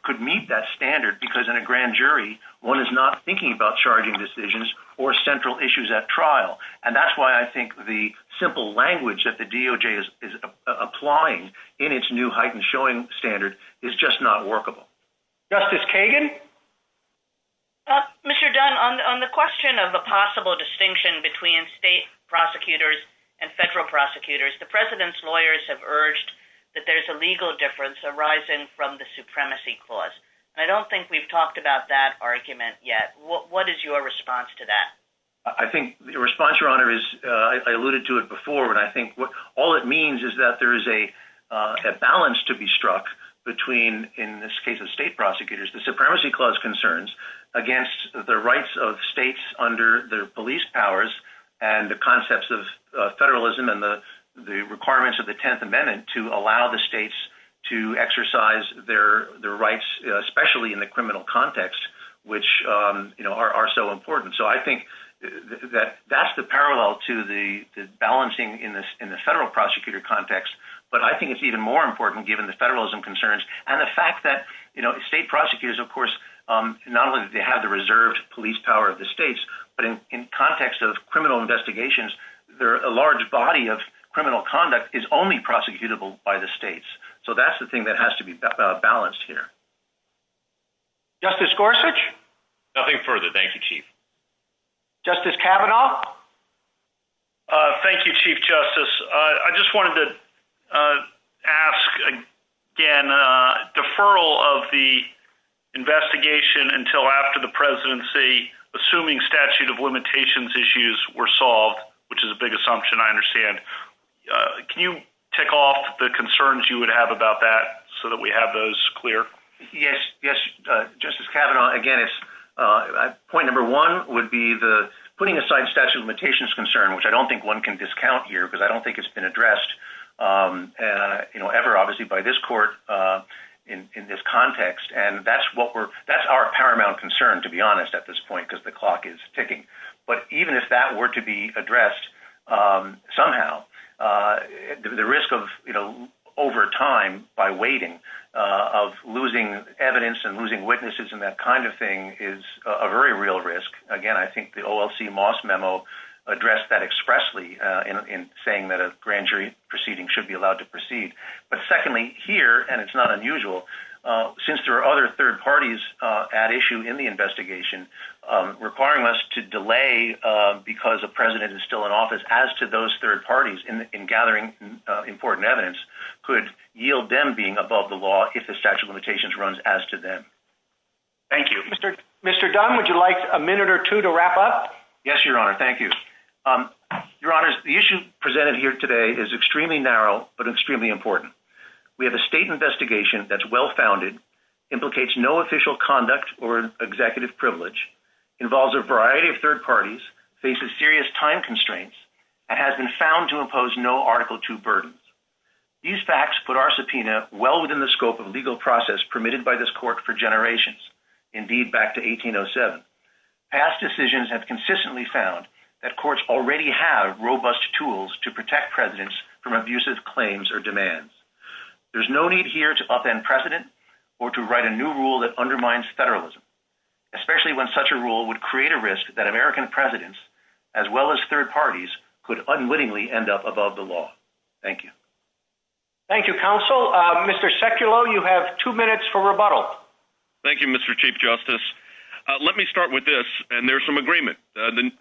could meet that standard because, in a grand jury, one is not thinking about charging decisions or central issues at trial. And that's why I think the simple language that the DOJ is applying in its new heightened showing standard is just not workable. Justice Kagan? Mr. Dunn, on the question of a possible distinction between state prosecutors and federal prosecutors, the President's lawyers have urged that there's a legal difference arising from the supremacy clause. I don't think we've talked about that argument yet. What is your response to that? I think your response, Your Honor, is I alluded to it before and I think all it means is that there is a balance to be struck between, in this case of state prosecutors, the supremacy clause concerns against the rights of states under their police powers and the concepts of federalism and the requirements of the Tenth Amendment to allow the states to exercise their rights, especially in the criminal context, which are so important. So I think that that's the parallel to the balancing in the federal prosecutor context. But I think it's even more important, given the federalism concerns and the fact that state prosecutors, of course, not only do they have the reserved police power of the states, but in context of criminal investigations, a large body of criminal conduct is only prosecutable by the states. So that's the thing that has to be balanced here. Justice Gorsuch? Nothing further. Thank you, Chief. Justice Kavanaugh? Thank you, Chief Justice. I just wanted to ask again, deferral of the investigation until after the presidency, assuming statute of limitations issues were solved, which is a big assumption, I understand. Can you tick off the concerns you would have about that so that we can have those clear? Yes, Justice Kavanaugh. Again, point number one would be the putting aside statute of limitations concern, which I don't think one can discount here, because I don't think it's been addressed ever, obviously, by this court in this context. And that's our paramount concern, to be honest, at this point, because the clock is ticking. But even if that were to be addressed somehow, the risk of over time, by waiting, of losing evidence and losing witnesses and that kind of thing is a very real risk. Again, I think the OLC Moss memo addressed that expressly in saying that a grand jury proceeding should be allowed to proceed. But secondly, here, and it's not unusual, since there are other third parties at issue in the investigation, requiring us to delay because the president is still in office, as to those third parties in gathering important evidence could yield them being above the law if the statute of limitations runs as to them. Thank you. Mr. Dunn, would you like a minute or two to wrap up? Yes, Your Honor. Thank you. Your Honor, the issue presented here today is extremely narrow, but extremely important. We have a state investigation that's well-founded, implicates no official conduct or executive privilege, involves a variety of third parties, faces serious time and poses no Article II burdens. These facts put our subpoena well within the scope of legal process permitted by this court for generations, indeed back to 1807. Past decisions have consistently found that courts already have robust tools to protect presidents from abusive claims or demands. There's no need here to upend precedent or to write a new rule that undermines federalism, especially when such a rule would create a risk that American presidents, as well as third parties, could unwittingly end up above the law. Thank you. Thank you, Counsel. Mr. Seculo, you have two minutes for rebuttal. Thank you, Mr. Chief Justice. Let me start with this, and there's some agreement. The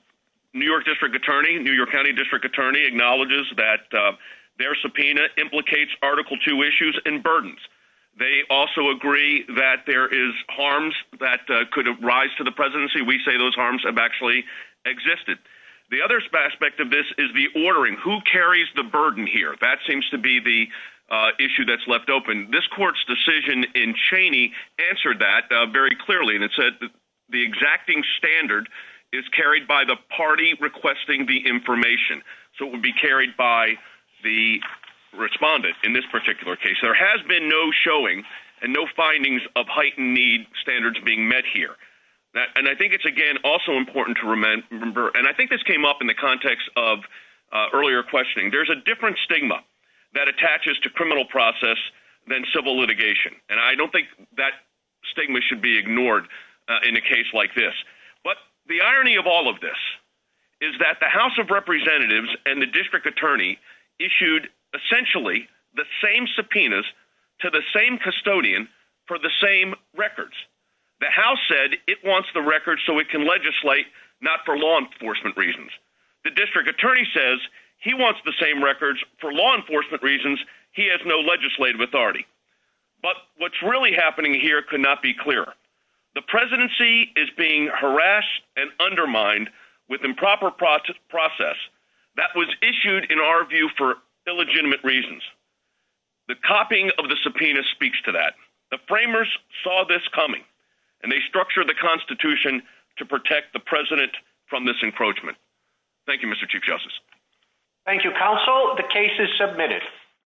New York District Attorney, New York County District Attorney, acknowledges that their subpoena implicates Article II issues and burdens. They also agree that there is harms that could arise to the presidency. We say those harms have actually existed. The other aspect of this is the ordering. Who carries the burden here? That seems to be the issue that's left open. This court's decision in Cheney answered that very clearly. It said the exacting standard is carried by the party requesting the information, so it would be carried by the respondent in this particular case. There has been no showing and no findings of heightened need standards being met here. I think it's, again, also important to remember, and I think this came up in the context of earlier questioning, there's a different stigma that attaches to criminal process than civil litigation, and I don't think that stigma should be ignored in a case like this. The irony of all of this is that the House of Representatives and the District Attorney issued, essentially, the same subpoenas to the same custodian for the same records. The House said it wants the records so it can legislate not for law enforcement reasons. The District Attorney says he wants the same records for law enforcement reasons. He has no legislative authority. But what's really happening here could not be clearer. The presidency is being harassed and undermined with improper process. That was issued, in our view, for illegitimate reasons. The copying of the subpoena speaks to that. The framers saw this coming, and they structured the Constitution to protect the president from this encroachment. Thank you, Mr. Chief Justice. Thank you, Counsel. The case is submitted.